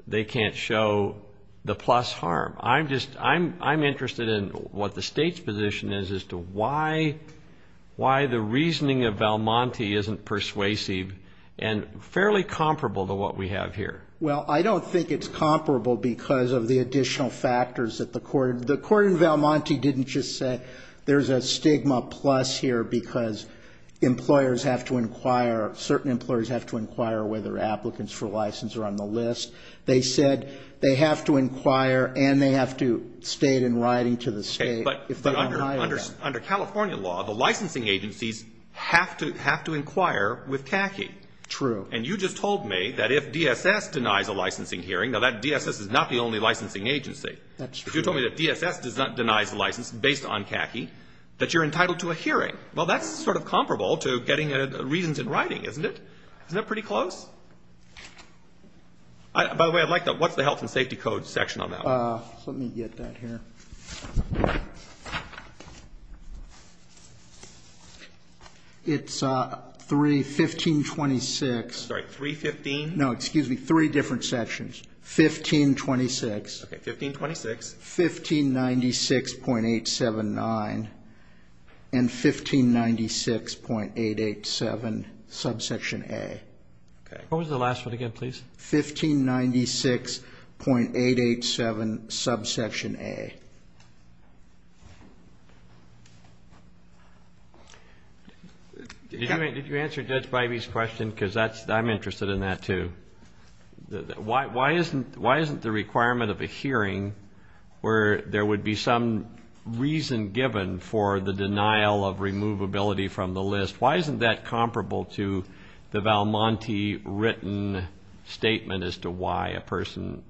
they can't show the plus harm, I'm interested in what the state's position is as to why the reasoning of Belmonte isn't persuasive and fairly comparable to what we have here. Well, I don't think it's comparable because of the additional factors that the court... The court in Belmonte didn't just say, there's a stigma plus here because employers have to inquire... Certain employers have to inquire whether applicants for license are on the list. They said they have to inquire and they have to state in writing to the state... But under California law, the licensing agencies have to inquire with tacking. True. And you just told me that if DSS denies a licensing hearing, now that DSS is not the only licensing agency. That's true. You told me that if DSS does not deny the license based on tacking, that you're entitled to a hearing. Well, that's sort of comparable to getting a reason in writing, isn't it? Isn't that pretty close? By the way, I'd like to know, what's the Health and Safety Code section on that? Let me get that here. It's 3, 1526... Sorry, 315? No, excuse me, three different sections. 1526. Okay, 1526. 1596.879 and 1596.887, subsection A. What was the last one again, please? 1596.887, subsection A. Did you answer Judge Bybee's question? Because I'm interested in that too. Why isn't the requirement of a hearing where there would be some reason given for the denial of removability from the list, why isn't that comparable to the Val Monti written statement as to why a person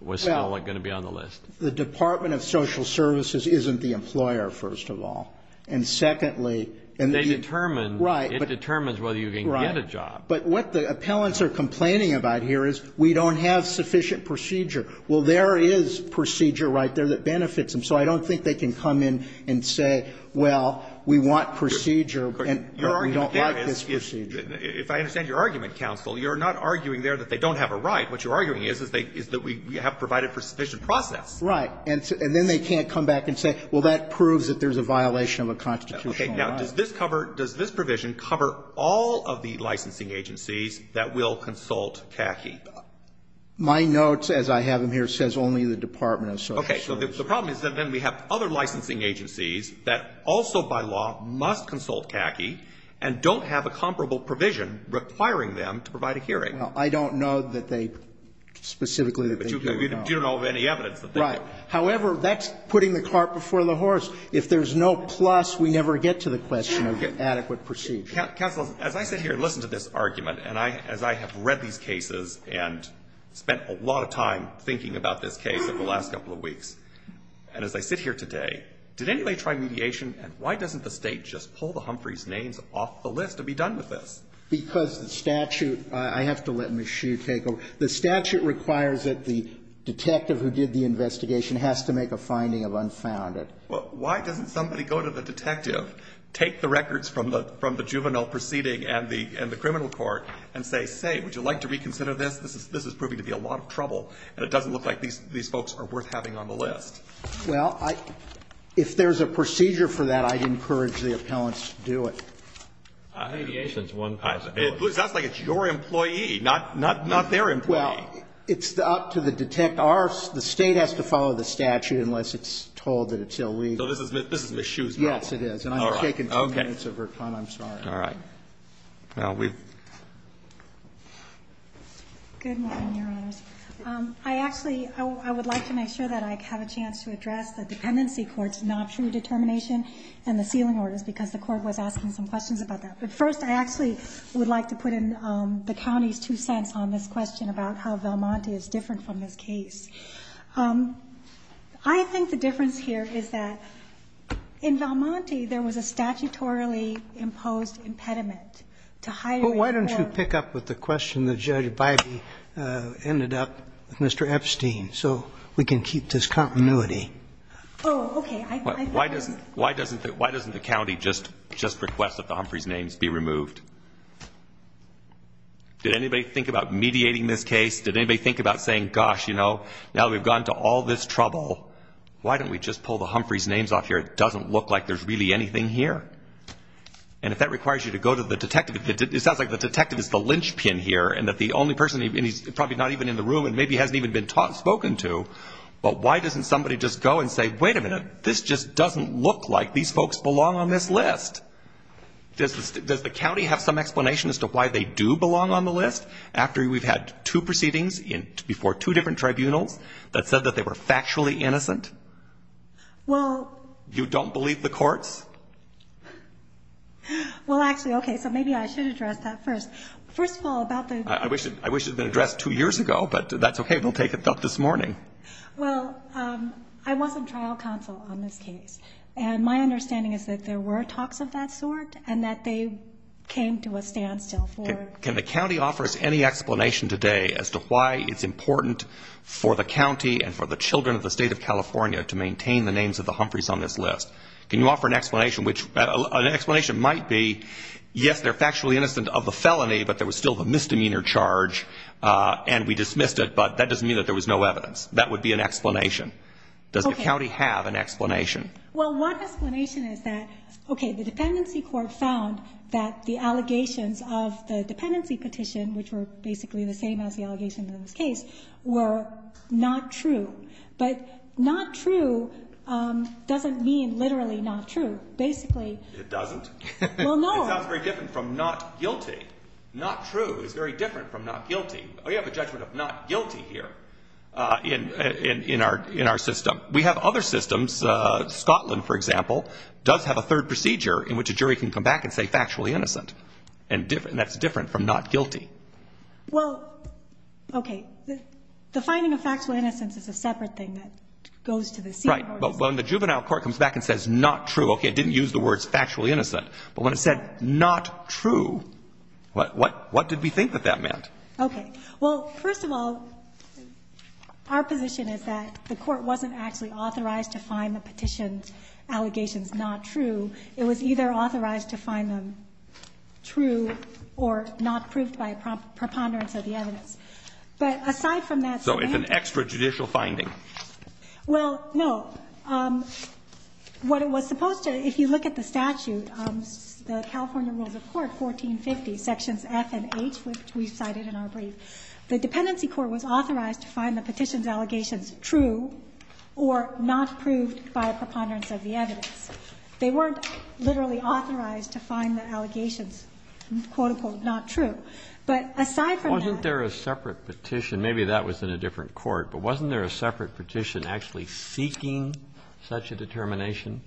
was going to be on the list? Well, the Department of Health and Safety and the Department of Social Services isn't the employer, first of all. And secondly... They determine. Right. It determines whether you can get a job. But what the appellants are complaining about here is we don't have sufficient procedure. Well, there is procedure right there that benefits them, so I don't think they can come in and say, well, we want procedure and we don't have this procedure. If I understand your argument, counsel, you're not arguing there that they don't have a right. What you're arguing is that we have provided for sufficient process. Right. And then they can't come back and say, well, that proves that there's a violation of a constitutional right. Okay. Now, does this provision cover all of the licensing agencies that will consult CACI? My notes, as I have them here, says only the Department of Social Services. Okay. So the problem is that then we have other licensing agencies that also, by law, must consult CACI and don't have a comparable provision requiring them to provide a hearing. I don't know that they specifically... Right. However, that's putting the cart before the horse. If there's no plus, we never get to the question of adequate procedure. Counsel, as I sit here and listen to this argument and as I have read these cases and spent a lot of time thinking about this case over the last couple of weeks, and as I sit here today, did anybody try mediation and why doesn't the state just pull the Humphreys' names off the list to be done with this? Because the statute... I have to let Ms. Shue take over. The statute requires that the detective who did the investigation has to make a finding of unfounded. Well, why doesn't somebody go to the detective, take the records from the juvenile proceeding and the criminal court, and say, say, would you like to reconsider this? This is proving to be a lot of trouble and it doesn't look like these folks are worth having on the list. Well, if there's a procedure for that, I'd encourage the appellants to do it. Mediation's one possibility. It looks like it's your employee, not their employee. Well, it's up to the detective. The state has to follow the statute unless it's told that it's illegal. So this is Ms. Shue's role. Yes, it is. And I've shaken some gaints of her tongue, I'm sorry. All right. Well, we... Good morning, Your Honor. I actually, I would like to make sure that I have a chance to address the Dependency Court's non-true determination and the sealing order, because the court was asking some questions about that. But first, I actually would like to put in the county's two cents on this question about how Valmonte is different from this case. I think the difference here is that in Valmonte, there was a statutorily imposed impediment to hire... Well, why don't you pick up with the question that Judge Bybee ended up with Mr. Epstein, so we can keep this continuity. Oh, okay, I... Why doesn't the county just request that the Humphreys' names be removed? Did anybody think about mediating this case? Did anybody think about saying, gosh, you know, now we've gotten to all this trouble, why don't we just pull the Humphreys' names off here? It doesn't look like there's really anything here. And if that requires you to go to the detective, it sounds like the detective is the linchpin here, and that the only person, and he's probably not even in the room, and maybe hasn't even been spoken to, but why doesn't somebody just go and say, wait a minute, this just doesn't look like these folks belong on this list. Does the county have some explanation as to why they do belong on the list, after we've had two proceedings before two different tribunals that said that they were factually innocent? Well... You don't believe the courts? Well, actually, okay, so maybe I should address that first. First of all, about the... I wish it had been addressed two years ago, but that's okay, we'll take it up this morning. Well, I wasn't trial counsel on this case, and my understanding is that there were talks of that sort, and that they came to a standstill for... Can the county offer us any explanation today as to why it's important for the county and for the children of the state of California to maintain the names of the Humphreys on this list? Can you offer an explanation, which an explanation might be, yes, they're factually innocent of the felony, but there was still the misdemeanor charge, and we dismissed it, but that doesn't mean that there was no evidence. That would be an explanation. Does the county have an explanation? Well, one explanation is that, okay, the dependency court found that the allegations of the dependency petition, which were basically the same as the allegations in this case, were not true. But not true doesn't mean literally not true. Basically... It doesn't? Well, no. It's not very different from not guilty. Not true is very different from not guilty. We have a judgment of not guilty here in our system. We have other systems. Scotland, for example, does have a third procedure in which a jury can come back and say factually innocent, and that's different from not guilty. Well, okay. Defining a factually innocent is a separate thing that goes to the senior court. Right, but when the juvenile court comes back and says not true, okay, it didn't use the words factually innocent, but when it said not true, what did we think that that meant? Okay, well, first of all, our position is that the court wasn't actually authorized to find the petition's allegations not true. It was either authorized to find them true or not proved by a preponderance of the evidence. But aside from that... So it's an extrajudicial finding. Well, no. What it was supposed to, if you look at the statute, the California Rules of Court, 1450, sections F and H, which we cited in our brief, the dependency court was authorized to find the petition's allegations true or not proved by a preponderance of the evidence. They weren't literally authorized to find the allegations, quote-unquote, not true. But aside from... Wasn't there a separate petition? Maybe that was in a different court, but wasn't there a separate petition actually seeking such a determination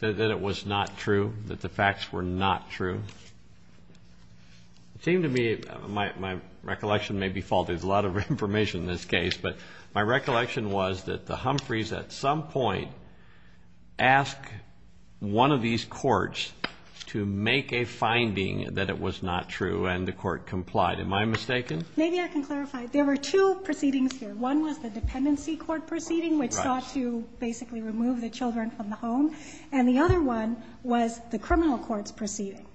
that it was not true, that the facts were not true? It seemed to me, my recollection may be false, there's a lot of information in this case, but my recollection was that the Humphreys at some point asked one of these courts to make a finding that it was not true, and the court complied. Am I mistaken? Maybe I can clarify. There were two proceedings here. One was the dependency court proceeding, which sought to basically remove the children from the home, and the other one was the criminal court's proceeding.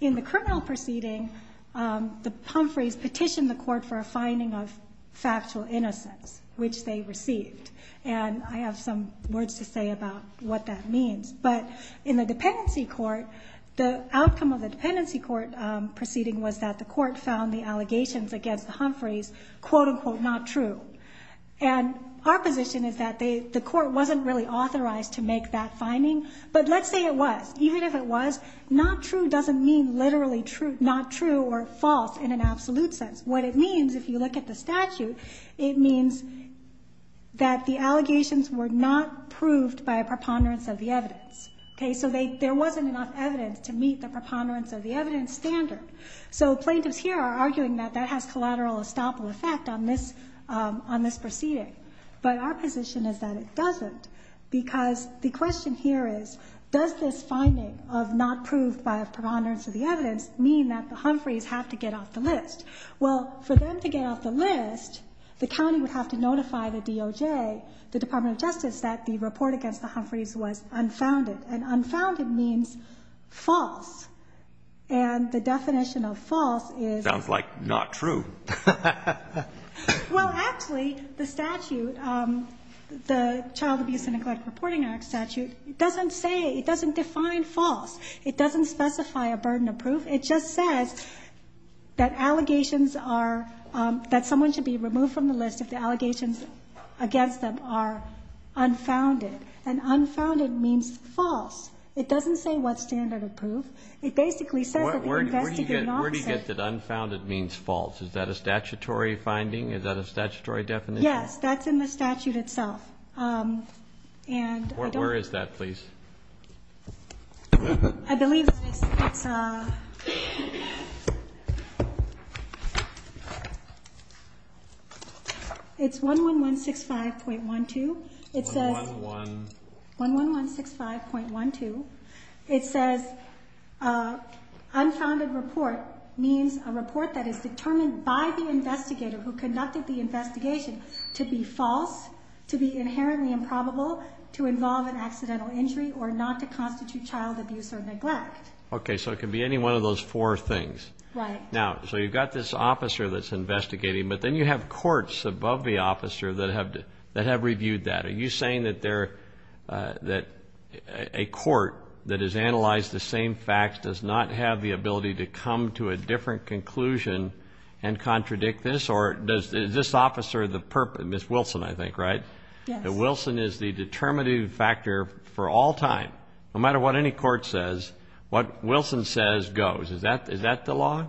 In the criminal proceeding, the Humphreys petitioned the court for a finding of factual innocence, which they received. And I have some words to say about what that means. But in the dependency court, the outcome of the dependency court proceeding was that the court found the allegations against the Humphreys, quote-unquote, not true. And our position is that the court wasn't really authorized to make that finding, but let's say it was. Even if it was, not true doesn't mean literally not true or false in an absolute sense. What it means, if you look at the statute, it means that the allegations were not proved by a preponderance of the evidence. So there wasn't enough evidence to meet the preponderance of the evidence standard. So plaintiffs here are arguing that that has collateral estoppel effect on this proceeding, but our position is that it doesn't because the question here is, does this finding of not proved by a preponderance of the evidence mean that the Humphreys have to get off the list? Well, for them to get off the list, the county would have to notify the DOJ, the Department of Justice, that the report against the Humphreys was unfounded. And unfounded means false. And the definition of false is... Sounds like not true. Well, actually, the statute, the Child Abuse and Neglect Reporting Act statute, it doesn't say, it doesn't define false. It doesn't specify a burden of proof. It just says that allegations are... that someone should be removed from the list if the allegations against them are unfounded. And unfounded means false. It doesn't say what standard of proof. It basically says... Where do you get that unfounded means false? Is that a statutory finding? Is that a statutory definition? Yes, that's in the statute itself. And I don't... Where is that, please? I believe it's... It's 11165.12. It says... 11165.12. It says, unfounded report means a report that is determined by the investigator who conducted the investigation to be false, to be inherently improbable, to involve an accidental injury, or not to constitute child abuse or neglect. Okay, so it could be any one of those four things. Right. Now, so you've got this officer that's investigating, but then you have courts above the officer that have reviewed that. Are you saying that they're... that a court that has analyzed the same facts does not have the ability to come to a different conclusion and contradict this? Or does this officer, Ms. Wilson, I think, right? Yeah. Now, Wilson is the determinative factor for all time. No matter what any court says, what Wilson says goes. Is that the law?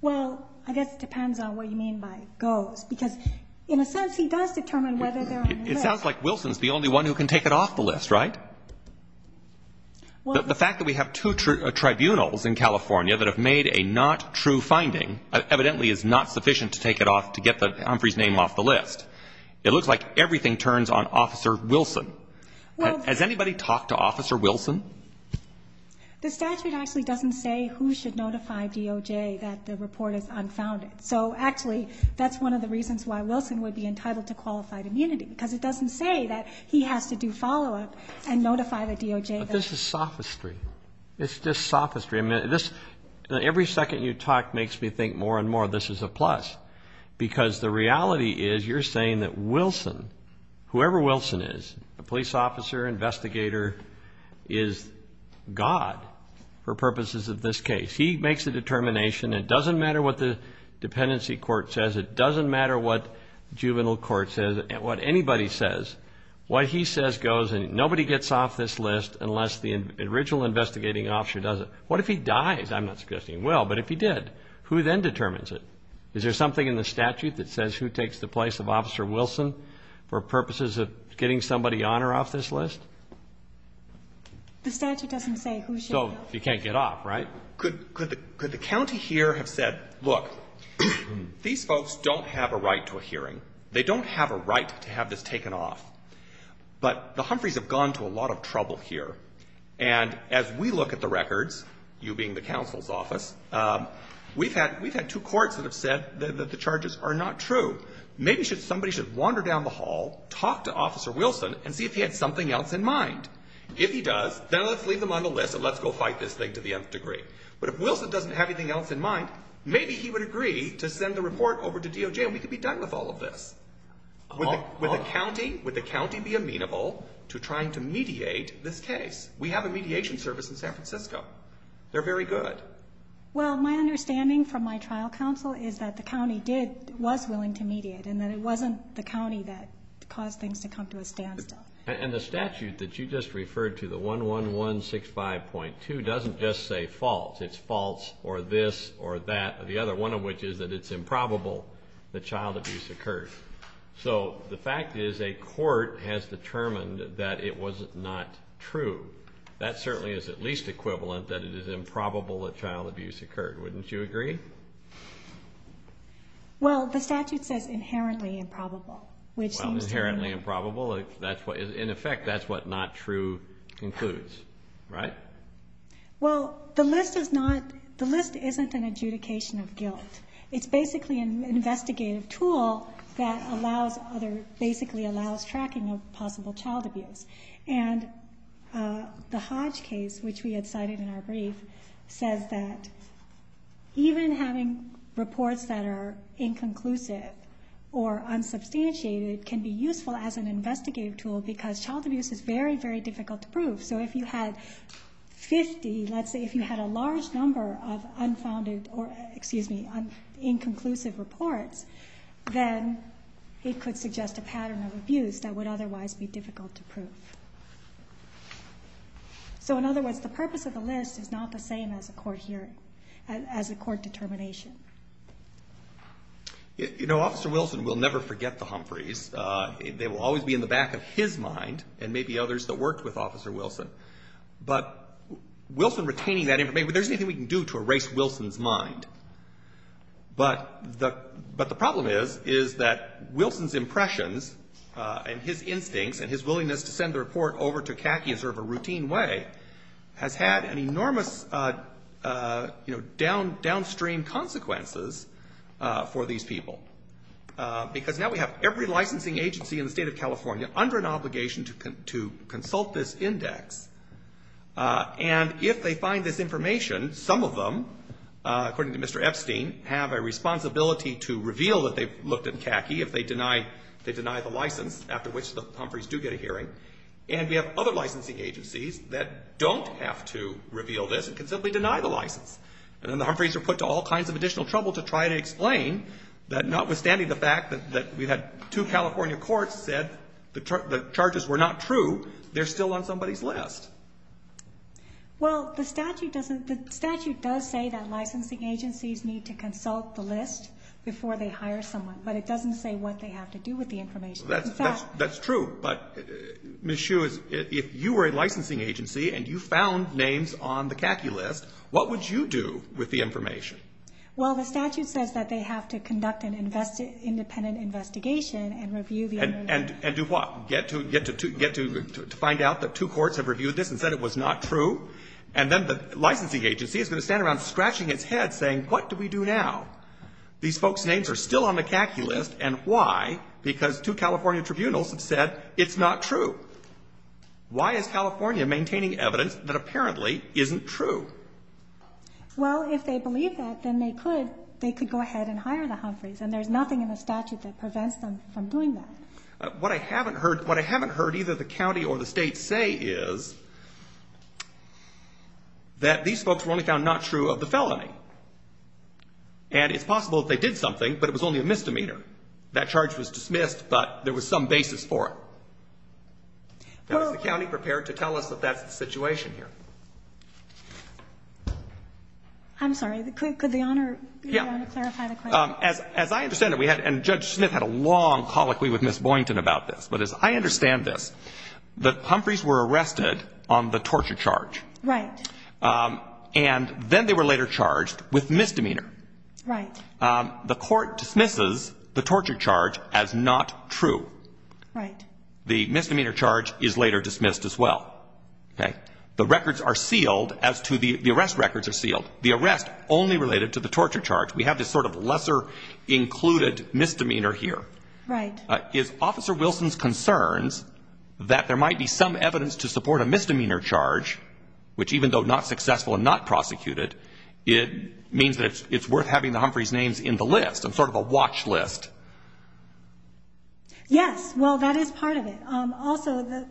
Well, I guess it depends on what you mean by goes, because in a sense, he does determine whether... It sounds like Wilson's the only one who can take it off the list, right? The fact that we have two tribunals in California that have made a not true finding evidently is not sufficient to take it off, to get Humphrey's name off the list. It looks like everything turns on Officer Wilson. Has anybody talked to Officer Wilson? The statute actually doesn't say who should notify DOJ that the report is unfounded. So, actually, that's one of the reasons why Wilson would be entitled to qualified immunity, because it doesn't say that he has to do follow-up and notify the DOJ that... But this is sophistry. It's just sophistry. Every second you talk makes me think more and more, this is a plus, because the reality is you're saying that Wilson, whoever Wilson is, the police officer, investigator, is God for purposes of this case. He makes the determination. It doesn't matter what the dependency court says. It doesn't matter what juvenile court says, what anybody says. What he says goes, and nobody gets off this list unless the original investigating officer does it. What if he dies? I'm not suggesting he will, but if he did, who then determines it? Is there something in the statute that says who takes the place of Officer Wilson for purposes of getting somebody on or off this list? The statute doesn't say who should... So you can't get off, right? Could the county here have said, look, these folks don't have a right to a hearing. They don't have a right to have this taken off. But the Humphreys have gone to a lot of trouble here. And as we look at the records, you being the counsel's office, we've had two courts that have said that the charges are not true. Maybe somebody should wander down the hall, talk to Officer Wilson, and see if he had something else in mind. If he does, then let's leave him on the list and let's go fight this thing to the nth degree. But if Wilson doesn't have anything else in mind, maybe he would agree to send the report over to DOJ and we could be done with all of this. Would the county be amenable to trying to mediate this case? We have a mediation service in San Francisco. They're very good. Well, my understanding from my trial counsel is that the county was willing to mediate and that it wasn't the county that caused things to come to a standstill. And the statute that you just referred to, the 11165.2, doesn't just say false. It's false or this or that. The other one of which is that it's improbable that child abuse occurred. So the fact is a court has determined that it was not true. That certainly is at least equivalent that it is improbable that child abuse occurred. Wouldn't you agree? Well, the statute says inherently improbable. Inherently improbable. In effect, that's what not true includes. Right? Well, the list isn't an adjudication of guilt. It's basically an investigative tool that basically allows tracking of possible child abuse. And the Hodge case, which we had cited in our brief, says that even having reports that are inconclusive or unsubstantiated can be useful as an investigative tool because child abuse is very, very difficult to prove. So if you had 50, let's say, if you had a large number of unfounded or, excuse me, inconclusive reports, then it could suggest a pattern of abuse that would otherwise be difficult to prove. So in other words, the purpose of the list is not the same as a court determination. You know, Officer Wilson will never forget the Humphreys. They will always be in the back of his mind and maybe others that worked with Officer Wilson. But Wilson retaining that information, there's nothing we can do to erase Wilson's mind. But the problem is that Wilson's impressions and his instincts and his willingness to send the report over to CACI in sort of a routine way has had enormous downstream consequences for these people because now we have every licensing agency in the state of California under an obligation to consult this index. And if they find this information, some of them, according to Mr. Epstein, have a responsibility to reveal that they've looked at CACI if they deny the license, after which the Humphreys do get a hearing. And we have other licensing agencies that don't have to reveal this and can simply deny the license. And then the Humphreys are put to all kinds of additional trouble to try to explain that notwithstanding the fact that we had two California courts that said the charges were not true, they're still on somebody's list. Well, the statute does say that licensing agencies need to consult the list before they hire someone. But it doesn't say what they have to do with the information. That's true. But Ms. Hsu, if you were a licensing agency and you found names on the CACI list, what would you do with the information? Well, the statute says that they have to conduct an independent investigation and review the evidence. And do what? Get to find out that two courts have reviewed this and said it was not true? And then the licensing agency is going to stand around scratching its head saying, what do we do now? These folks' names are still on the CACI list, and why? Because two California tribunals said it's not true. Why is California maintaining evidence that apparently isn't true? Well, if they believe that, then they could go ahead and hire the Humphreys, and there's nothing in the statute that prevents them from doing that. What I haven't heard either the county or the state say is that these folks were only found not true of the felony. And it's possible that they did something, but it was only a misdemeanor. That charge was dismissed, but there was some basis for it. Is the county prepared to tell us if that's the situation here? I'm sorry, could the Honor be there to clarify the question? As I understand it, and Judge Smith had a long colloquy with Ms. Boynton about this, but as I understand this, the Humphreys were arrested on the torture charge. Right. And then they were later charged with misdemeanor. Right. The court dismisses the torture charge as not true. Right. The misdemeanor charge is later dismissed as well. The records are sealed as to the arrest records are sealed. The arrest only related to the torture charge. We have this sort of lesser included misdemeanor here. Right. Is Officer Wilson's concerns that there might be some evidence to support a misdemeanor charge, which even though not successful and not prosecuted, it means that it's worth having the Humphreys' names in the list and sort of a watch list? Yes, well, that is part of it. Also, the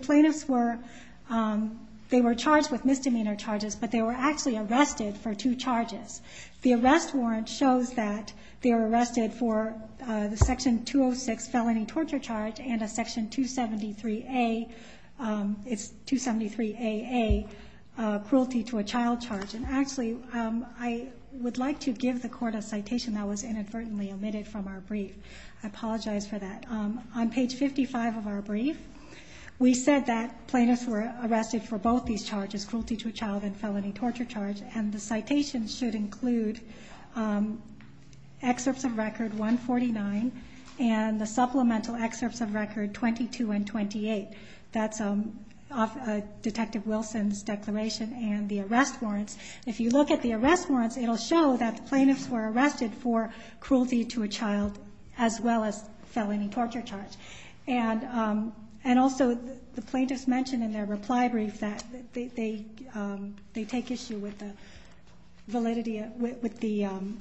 plaintiffs were charged with misdemeanor charges, but they were actually arrested for two charges. The arrest warrant shows that they were arrested for the Section 206 felony torture charge and a Section 273AA cruelty to a child charge. And actually, I would like to give the court a citation that was inadvertently omitted from our brief. I apologize for that. On page 55 of our brief, we said that plaintiffs were arrested for both these charges, cruelty to a child and felony torture charge, and the citation should include excerpts of Record 149 and the supplemental excerpts of Record 22 and 28. That's Detective Wilson's declaration and the arrest warrants. If you look at the arrest warrants, it will show that the plaintiffs were arrested for cruelty to a child as well as felony torture charge. And also, the plaintiffs mentioned in their reply brief that they take issue with the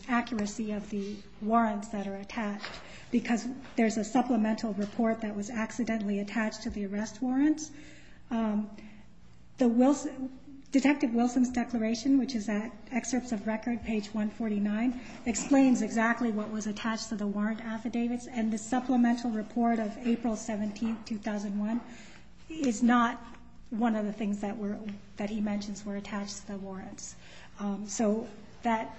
accuracy of the warrants that are attached because there's a supplemental report that was accidentally attached to the arrest warrants. Detective Wilson's declaration, which is at excerpts of Record page 149, explains exactly what was attached to the warrant affidavits, and the supplemental report of April 17, 2001, is not one of the things that he mentions were attached to the warrants. So that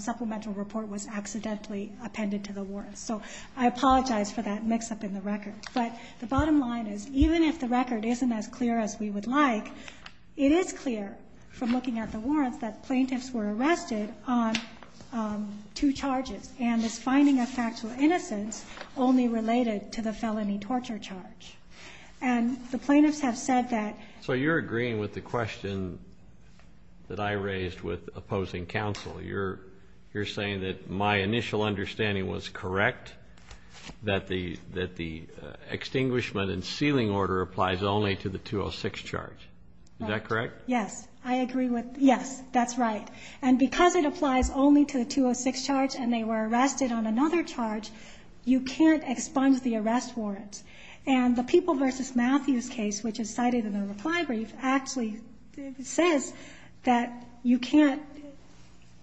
supplemental report was accidentally appended to the warrants. So I apologize for that mix-up in the records. But the bottom line is, even if the record isn't as clear as we would like, it is clear from looking at the warrants that the plaintiffs were arrested on two charges and this finding of factual innocence only related to the felony torture charge. And the plaintiffs have said that... So you're agreeing with the question that I raised with opposing counsel. You're saying that my initial understanding was correct, that the extinguishment and sealing order applies only to the 206 charge. Is that correct? Yes. I agree with... Yes, that's right. And because it applies only to the 206 charge and they were arrested on another charge, you can't expunge the arrest warrants. And the People v. Matthews case, which is cited in the reply brief, actually says that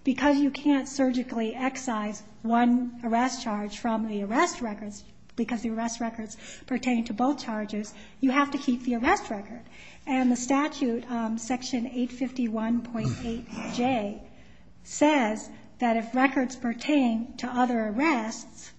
because you can't surgically excise one arrest charge from the arrest records because the arrest records pertain to both charges, you have to keep the arrest record. And the statute, Section 851.8J, says that if records pertain to other arrests,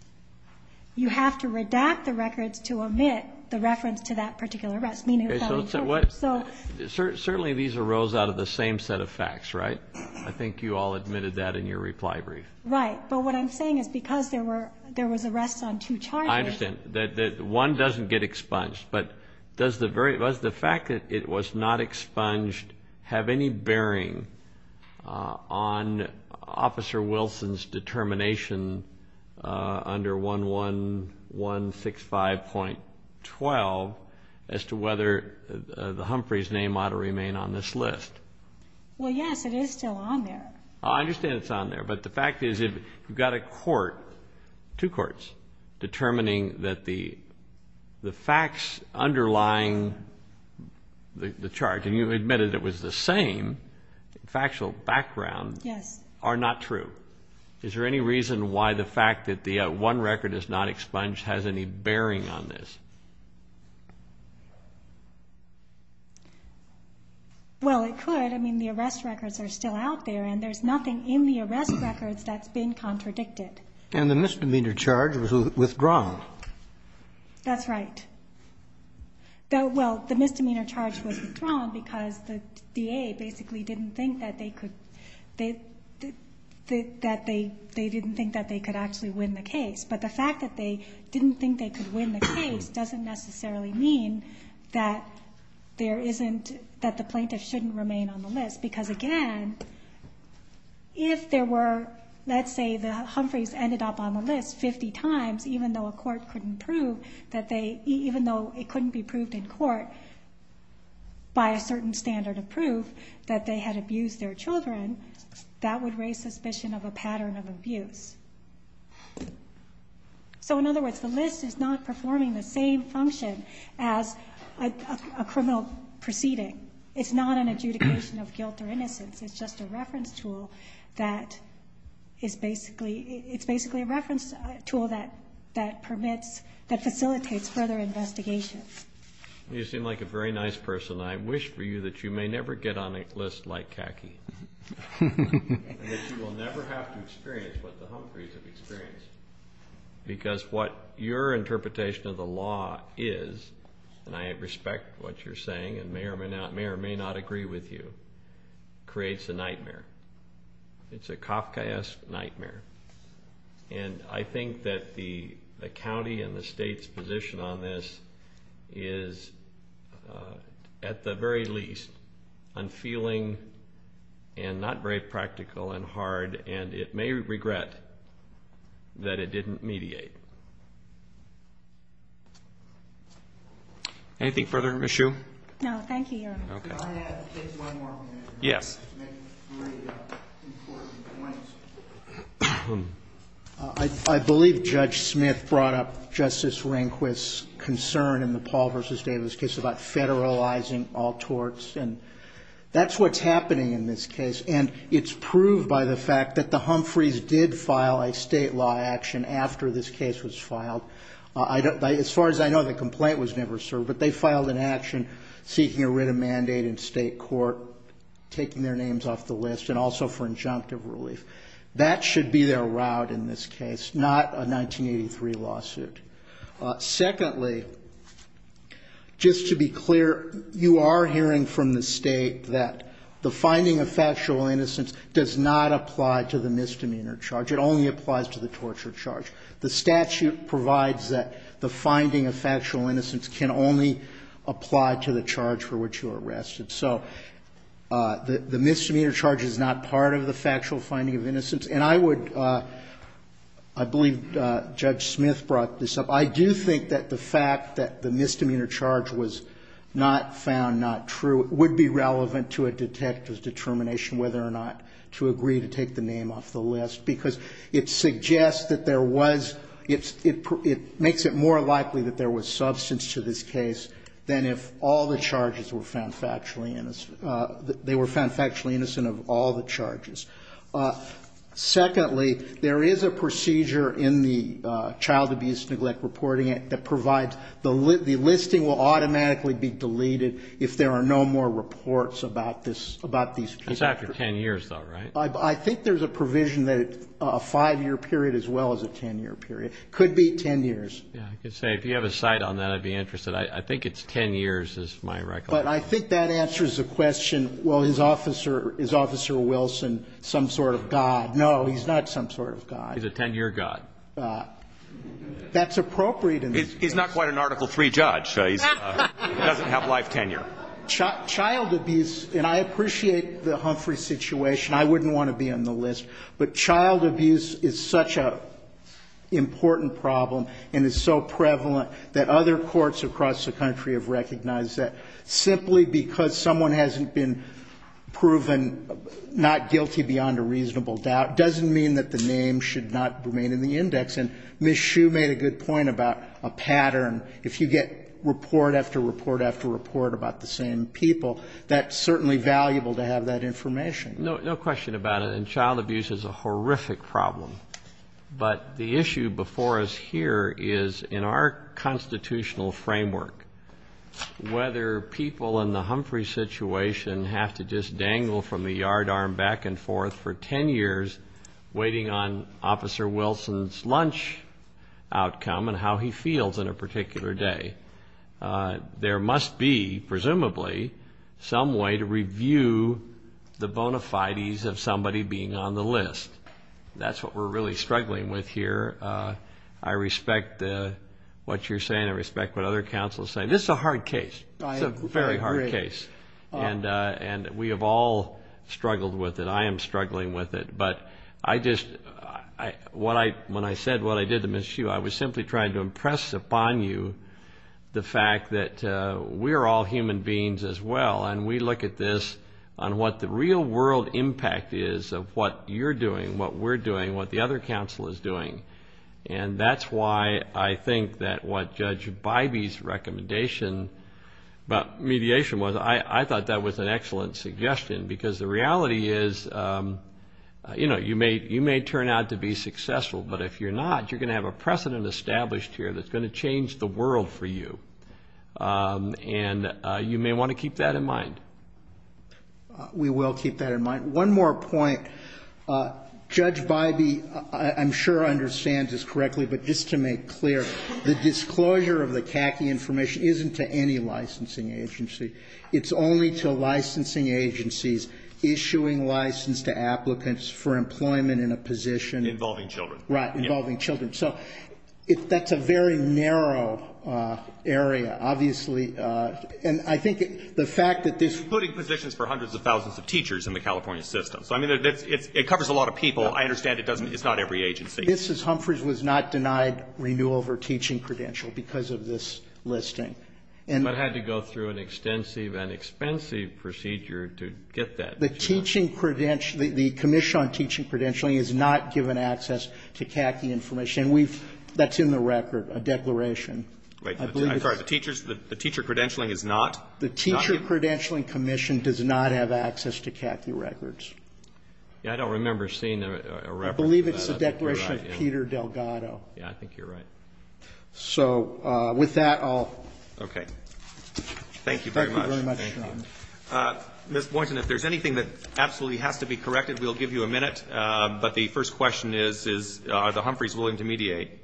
you have to redact the records to omit the reference to that particular arrest, meaning felony torture. Certainly these arose out of the same set of facts, right? I think you all admitted that in your reply brief. Right. But what I'm saying is because there were arrests on two charges... I understand. One doesn't get expunged. But does the fact that it was not expunged have any bearing on Officer Wilson's determination under 11165.12 as to whether Humphrey's name ought to remain on this list? Well, yes, it is still on there. I understand it's on there. But the fact is you've got a court, two courts, determining that the facts underlying the charge, and you admitted it was the same factual background, are not true. Is there any reason why the fact that the one record is not expunged has any bearing on this? Well, it could. But the arrest records are still out there, and there's nothing in the arrest records that's been contradicted. And the misdemeanor charge was withdrawn. That's right. Well, the misdemeanor charge was withdrawn because the DA basically didn't think that they could actually win the case. So it doesn't necessarily mean that the plaintiff shouldn't remain on the list. Because, again, if there were, let's say, the Humphreys ended up on the list 50 times, even though it couldn't be proved in court by a certain standard of proof that they had abused their children, that would raise suspicion of a pattern of abuse. So, in other words, the list is not performing the same function as a criminal proceeding. It's not an adjudication of guilt or innocence. It's just a reference tool that is basically a reference tool that permits, that facilitates further investigation. You seem like a very nice person, and I wish for you that you may never get on a list like Kaki. And that you will never have to experience what the Humphreys have experienced. Because what your interpretation of the law is, and I respect what you're saying and may or may not agree with you, creates a nightmare. It's a Kafkaesque nightmare. And I think that the county and the state's position on this is, at the very least, unfeeling and not very practical and hard, and it may regret that it didn't mediate. Anything further, Ms. Hsu? No, thank you. Okay. I have just one more minute. Yes. I believe Judge Smith brought up Justice Rehnquist's concern in the Paul v. Davis case about federalizing all torts. And that's what's happening in this case. And it's proved by the fact that the Humphreys did file a state law action after this case was filed. As far as I know, the complaint was never served, but they filed an action seeking to writ a mandate in state court, taking their names off the list, and also for injunctive relief. That should be their route in this case, not a 1983 lawsuit. Secondly, just to be clear, you are hearing from the state that the finding of factual innocence does not apply to the misdemeanor charge. It only applies to the torture charge. The statute provides that the finding of factual innocence can only apply to the charge for which you are arrested. So the misdemeanor charge is not part of the factual finding of innocence. And I would, I believe Judge Smith brought this up, I do think that the fact that the misdemeanor charge was not found not true would be relevant to a detective's determination whether or not to agree to take the name off the list. Because it suggests that there was, it makes it more likely that there was substance to this case than if all the charges were found factually innocent. They were found factually innocent of all the charges. Secondly, there is a procedure in the Child Abuse and Neglect Reporting Act that provides the listing will automatically be deleted if there are no more reports about this, about these people. It's after 10 years though, right? I think there's a provision that a five-year period as well as a 10-year period, could be 10 years. I could say, if you have a site on that, I'd be interested. I think it's 10 years is my recollection. But I think that answers the question. Well, is Officer Wilson some sort of God? No, he's not some sort of God. He's a 10-year God. That's appropriate. He's not quite an Article III judge, so he doesn't have life tenure. Child abuse, and I appreciate the Humphrey situation. I wouldn't want to be on the list. But child abuse is such an important problem and is so prevalent that other courts across the country have recognized that. Simply because someone hasn't been proven not guilty beyond a reasonable doubt doesn't mean that the name should not remain in the index. And Ms. Shue made a good point about a pattern. If you get report after report after report about the same people, that's certainly valuable to have that information. No question about it. And child abuse is a horrific problem. But the issue before us here is, in our constitutional framework, whether people in the Humphrey situation have to just dangle from the yardarm back and forth for 10 years waiting on Officer Wilson's lunch outcome and how he feels in a particular day, there must be, presumably, some way to review the bona fides of somebody being on the list. That's what we're really struggling with here. I respect what you're saying. I respect what other counsels say. This is a hard case. It's a very hard case. And we have all struggled with it. I am struggling with it. But when I said what I did to Ms. Shue, I was simply trying to impress upon you the fact that we're all human beings as well. And we look at this on what the real-world impact is of what you're doing, what we're doing, what the other counsel is doing. And that's why I think that what Judge Bybee's recommendation about mediation was, I thought that was an excellent suggestion because the reality is, you know, you may turn out to be successful, but if you're not, you're going to have a precedent established here that's going to change the world for you. And you may want to keep that in mind. We will keep that in mind. One more point. Judge Bybee, I'm sure, understands this correctly, but just to make clear, the disclosure of the CACI information isn't to any licensing agency. It's only to licensing agencies issuing license to applicants for employment in a position. Involving children. Right. Involving children. So that's a very narrow area, obviously. And I think the fact that this. Including positions for hundreds of thousands of teachers in the California system. So, I mean, it covers a lot of people. I understand it doesn't, it's not every agency. This is, Humphreys was not denied renewal of her teaching credential because of this listing. I had to go through an extensive and expensive procedure to get that. The teaching credential, the commission on teaching credentialing is not given access to CACI information. And we've, that's in the record, a declaration. I'm sorry, the teacher credentialing is not? The teacher credentialing commission does not have access to CACI records. Yeah, I don't remember seeing a record. I believe it's a declaration of Peter Delgado. Yeah, I think you're right. So, with that, I'll. Okay. Thank you very much. Thank you very much. Ms. Boynton, if there's anything that absolutely has to be corrected, we'll give you a minute. But the first question is, are the Humphreys willing to mediate?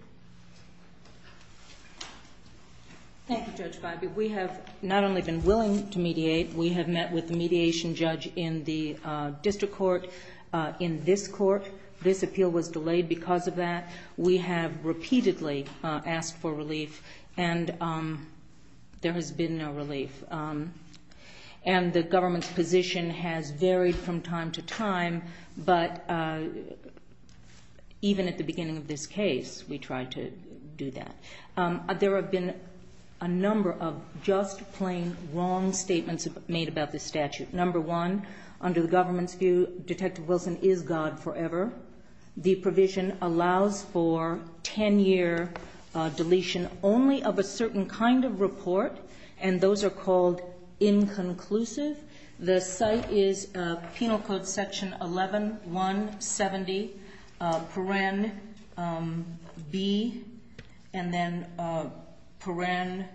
Thank you, Judge Bobby. We have not only been willing to mediate, we have met with the mediation judge in the district court, in this court. This appeal was delayed because of that. We have repeatedly asked for relief, and there has been no relief. And the government's position has varied from time to time, but even at the beginning of this case, we tried to do that. There have been a number of just plain wrong statements made about this statute. Number one, under the government's view, Detective Wilson is God forever. The provision allows for 10-year deletion only of a certain kind of report, and those are called inconclusive. The site is Penal Code Section 11-170, Paren B, and then Paren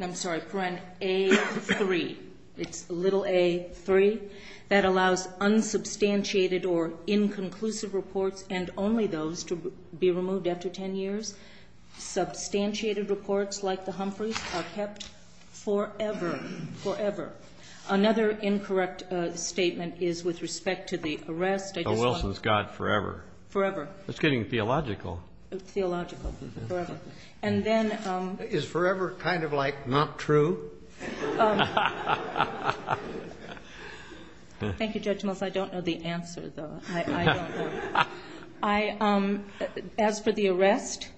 A-3. It's little A-3. That allows unsubstantiated or inconclusive reports and only those to be removed after 10 years. Substantiated reports like the Humphreys are kept forever, forever. Another incorrect statement is with respect to the arrest. Detective Wilson is God forever. Forever. It's getting theological. It's theological, forever. And then – Is forever kind of like not true? Thank you, Judge Mills. I don't know the answer, though. I don't know. As for the arrest,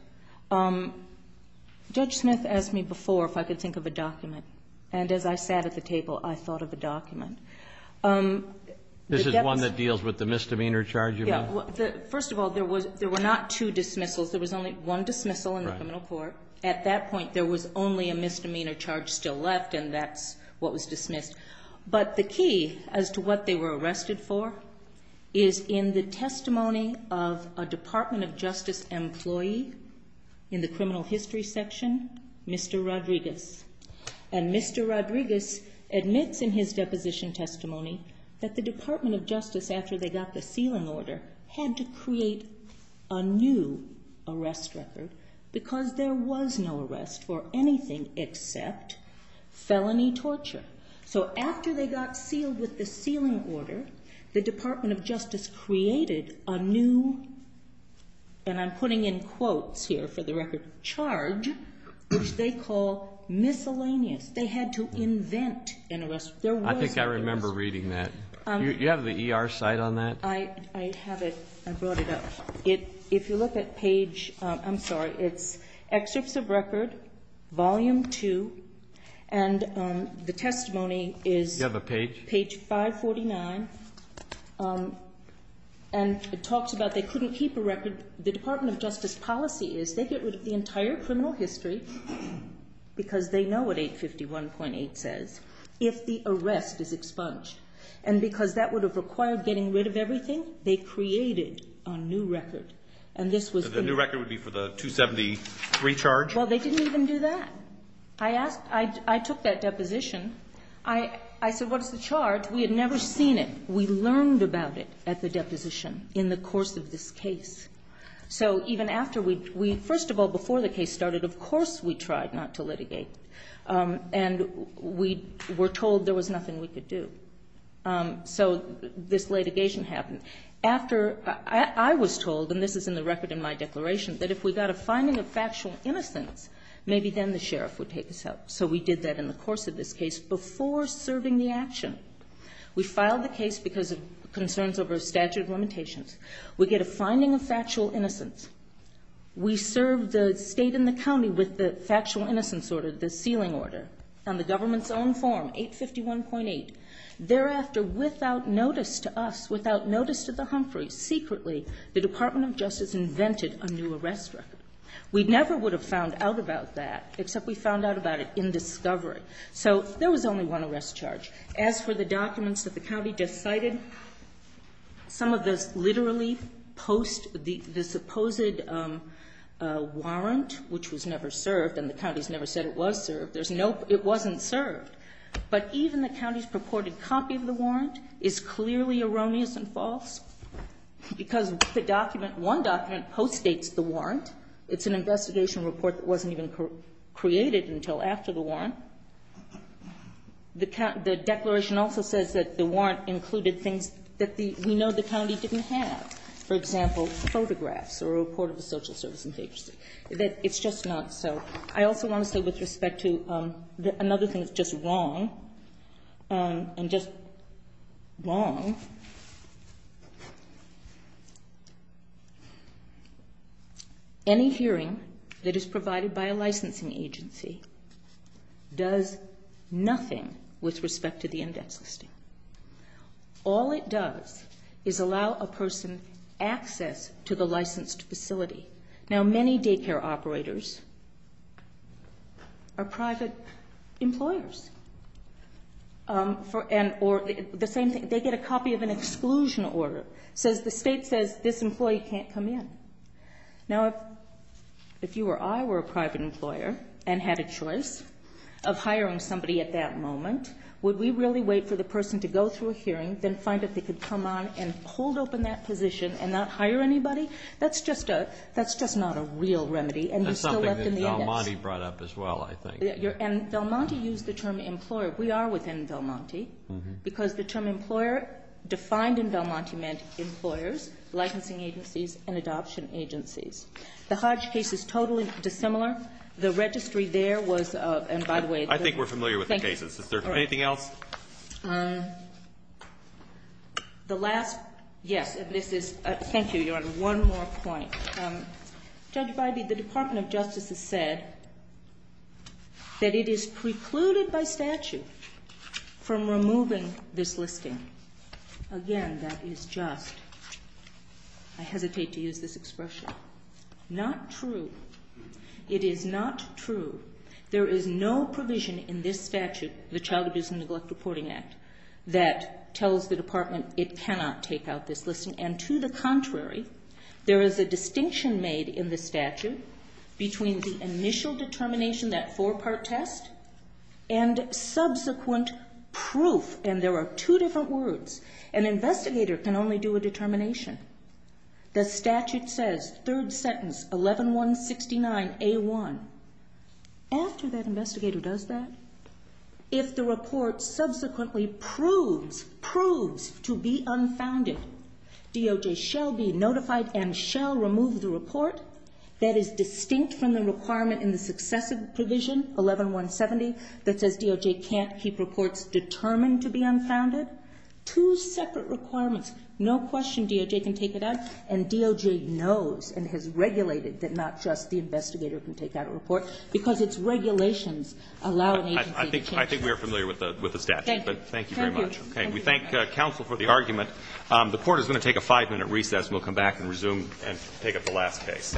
Judge Smith asked me before if I could think of a document, and as I sat at the table, I thought of a document. This is one that deals with the misdemeanor charge, you mean? First of all, there were not two dismissals. There was only one dismissal in the criminal court. At that point, there was only a misdemeanor charge still left, and that's what was dismissed. But the key as to what they were arrested for is in the testimony of a Department of Justice employee in the criminal history section, Mr. Rodriguez. And Mr. Rodriguez admits in his deposition testimony that the Department of Justice, after they got the sealant order, had to create a new arrest record because there was no arrest for anything except felony torture. So after they got sealed with the sealant order, the Department of Justice created a new, and I'm putting in quotes here for the record, charge, which they call miscellaneous. They had to invent an arrest record. I think I remember reading that. Do you have the ER site on that? I have it. I brought it up. If you look at page, I'm sorry, it's Excessive Record, Volume 2, and the testimony is page 549. And it talks about they couldn't keep a record. The Department of Justice policy is they get rid of the entire criminal history because they know what 851.8 says if the arrest is expunged. And because that would have required getting rid of everything, they created a new record. The new record would be for the 273 charge? Well, they didn't even do that. I took that deposition. I said, what's the charge? We had never seen it. We learned about it at the deposition in the course of this case. So even after we, first of all, before the case started, of course we tried not to litigate. And we were told there was nothing we could do. So this litigation happened. After I was told, and this is in the record in my declaration, that if we got a finding of factual innocence, maybe then the sheriff would take us out. So we did that in the course of this case before serving the action. We filed the case because of concerns over statute of limitations. We get a finding of factual innocence. We serve the state and the county with the factual innocence order, the sealing order, on the government's own form, 851.8. Thereafter, without notice to us, without notice to the Humphreys, secretly, the Department of Justice invented a new arrest record. We never would have found out about that, except we found out about it in discovery. So there was only one arrest charge. As for the documents that the county decided, some of this literally post the supposed warrant, which was never served, and the county's never said it was served. There's no, it wasn't served. But even the county's purported copy of the warrant is clearly erroneous and false because the document, one document, post-states the warrant. It's an investigation report that wasn't even created until after the warrant. The declaration also says that the warrant included things that we know the county didn't have. For example, photographs or a report of the social services agency. It's just not so. I also want to say with respect to another thing that's just wrong, and just wrong. Any hearing that is provided by a licensing agency does nothing with respect to the index listing. All it does is allow a person access to the licensed facility. Now, many daycare operators are private employers. The same thing, they get a copy of an exclusion order. It says the state says this employee can't come in. Now, if you or I were a private employer and had a choice of hiring somebody at that moment, would we really wait for the person to go through a hearing, then find if they could come on and hold open that position and not hire anybody? That's just not a real remedy. That's something that Del Monte brought up as well, I think. Del Monte used the term employer. We are within Del Monte because the term employer defined in Del Monte meant employers, licensing agencies, and adoption agencies. The Hodge case is totally dissimilar. The registry there was, and by the way, I think we're familiar with the cases. Thank you. Is there anything else? The last, yes, this is, thank you, Your Honor, one more point. Judge Bybee, the Department of Justice has said that it is precluded by statute from removing this listing. Again, that is just, I hesitate to use this expression, not true. It is not true. There is no provision in this statute, the Child Abuse and Neglect Reporting Act, that tells the department it cannot take out this listing. And to the contrary, there is a distinction made in the statute between the initial determination, that four-part test, and subsequent proof. And there are two different words. An investigator can only do a determination. The statute says, third sentence, 11169A1. After that investigator does that, if the report subsequently proves, proves to be unfounded, DOJ shall be notified and shall remove the report that is distinct from the requirement in the successive provision, 11170, that says DOJ can't keep reports determined to be unfounded. Two separate requirements. No question DOJ can take it out. And DOJ knows and has regulated that not just the investigator can take out a report, because its regulations allow an agency to take it out. I think we are familiar with the statute. Thank you very much. We thank counsel for the argument. The Court is going to take a five-minute recess, and we'll come back and resume and take up the last case. Thank you.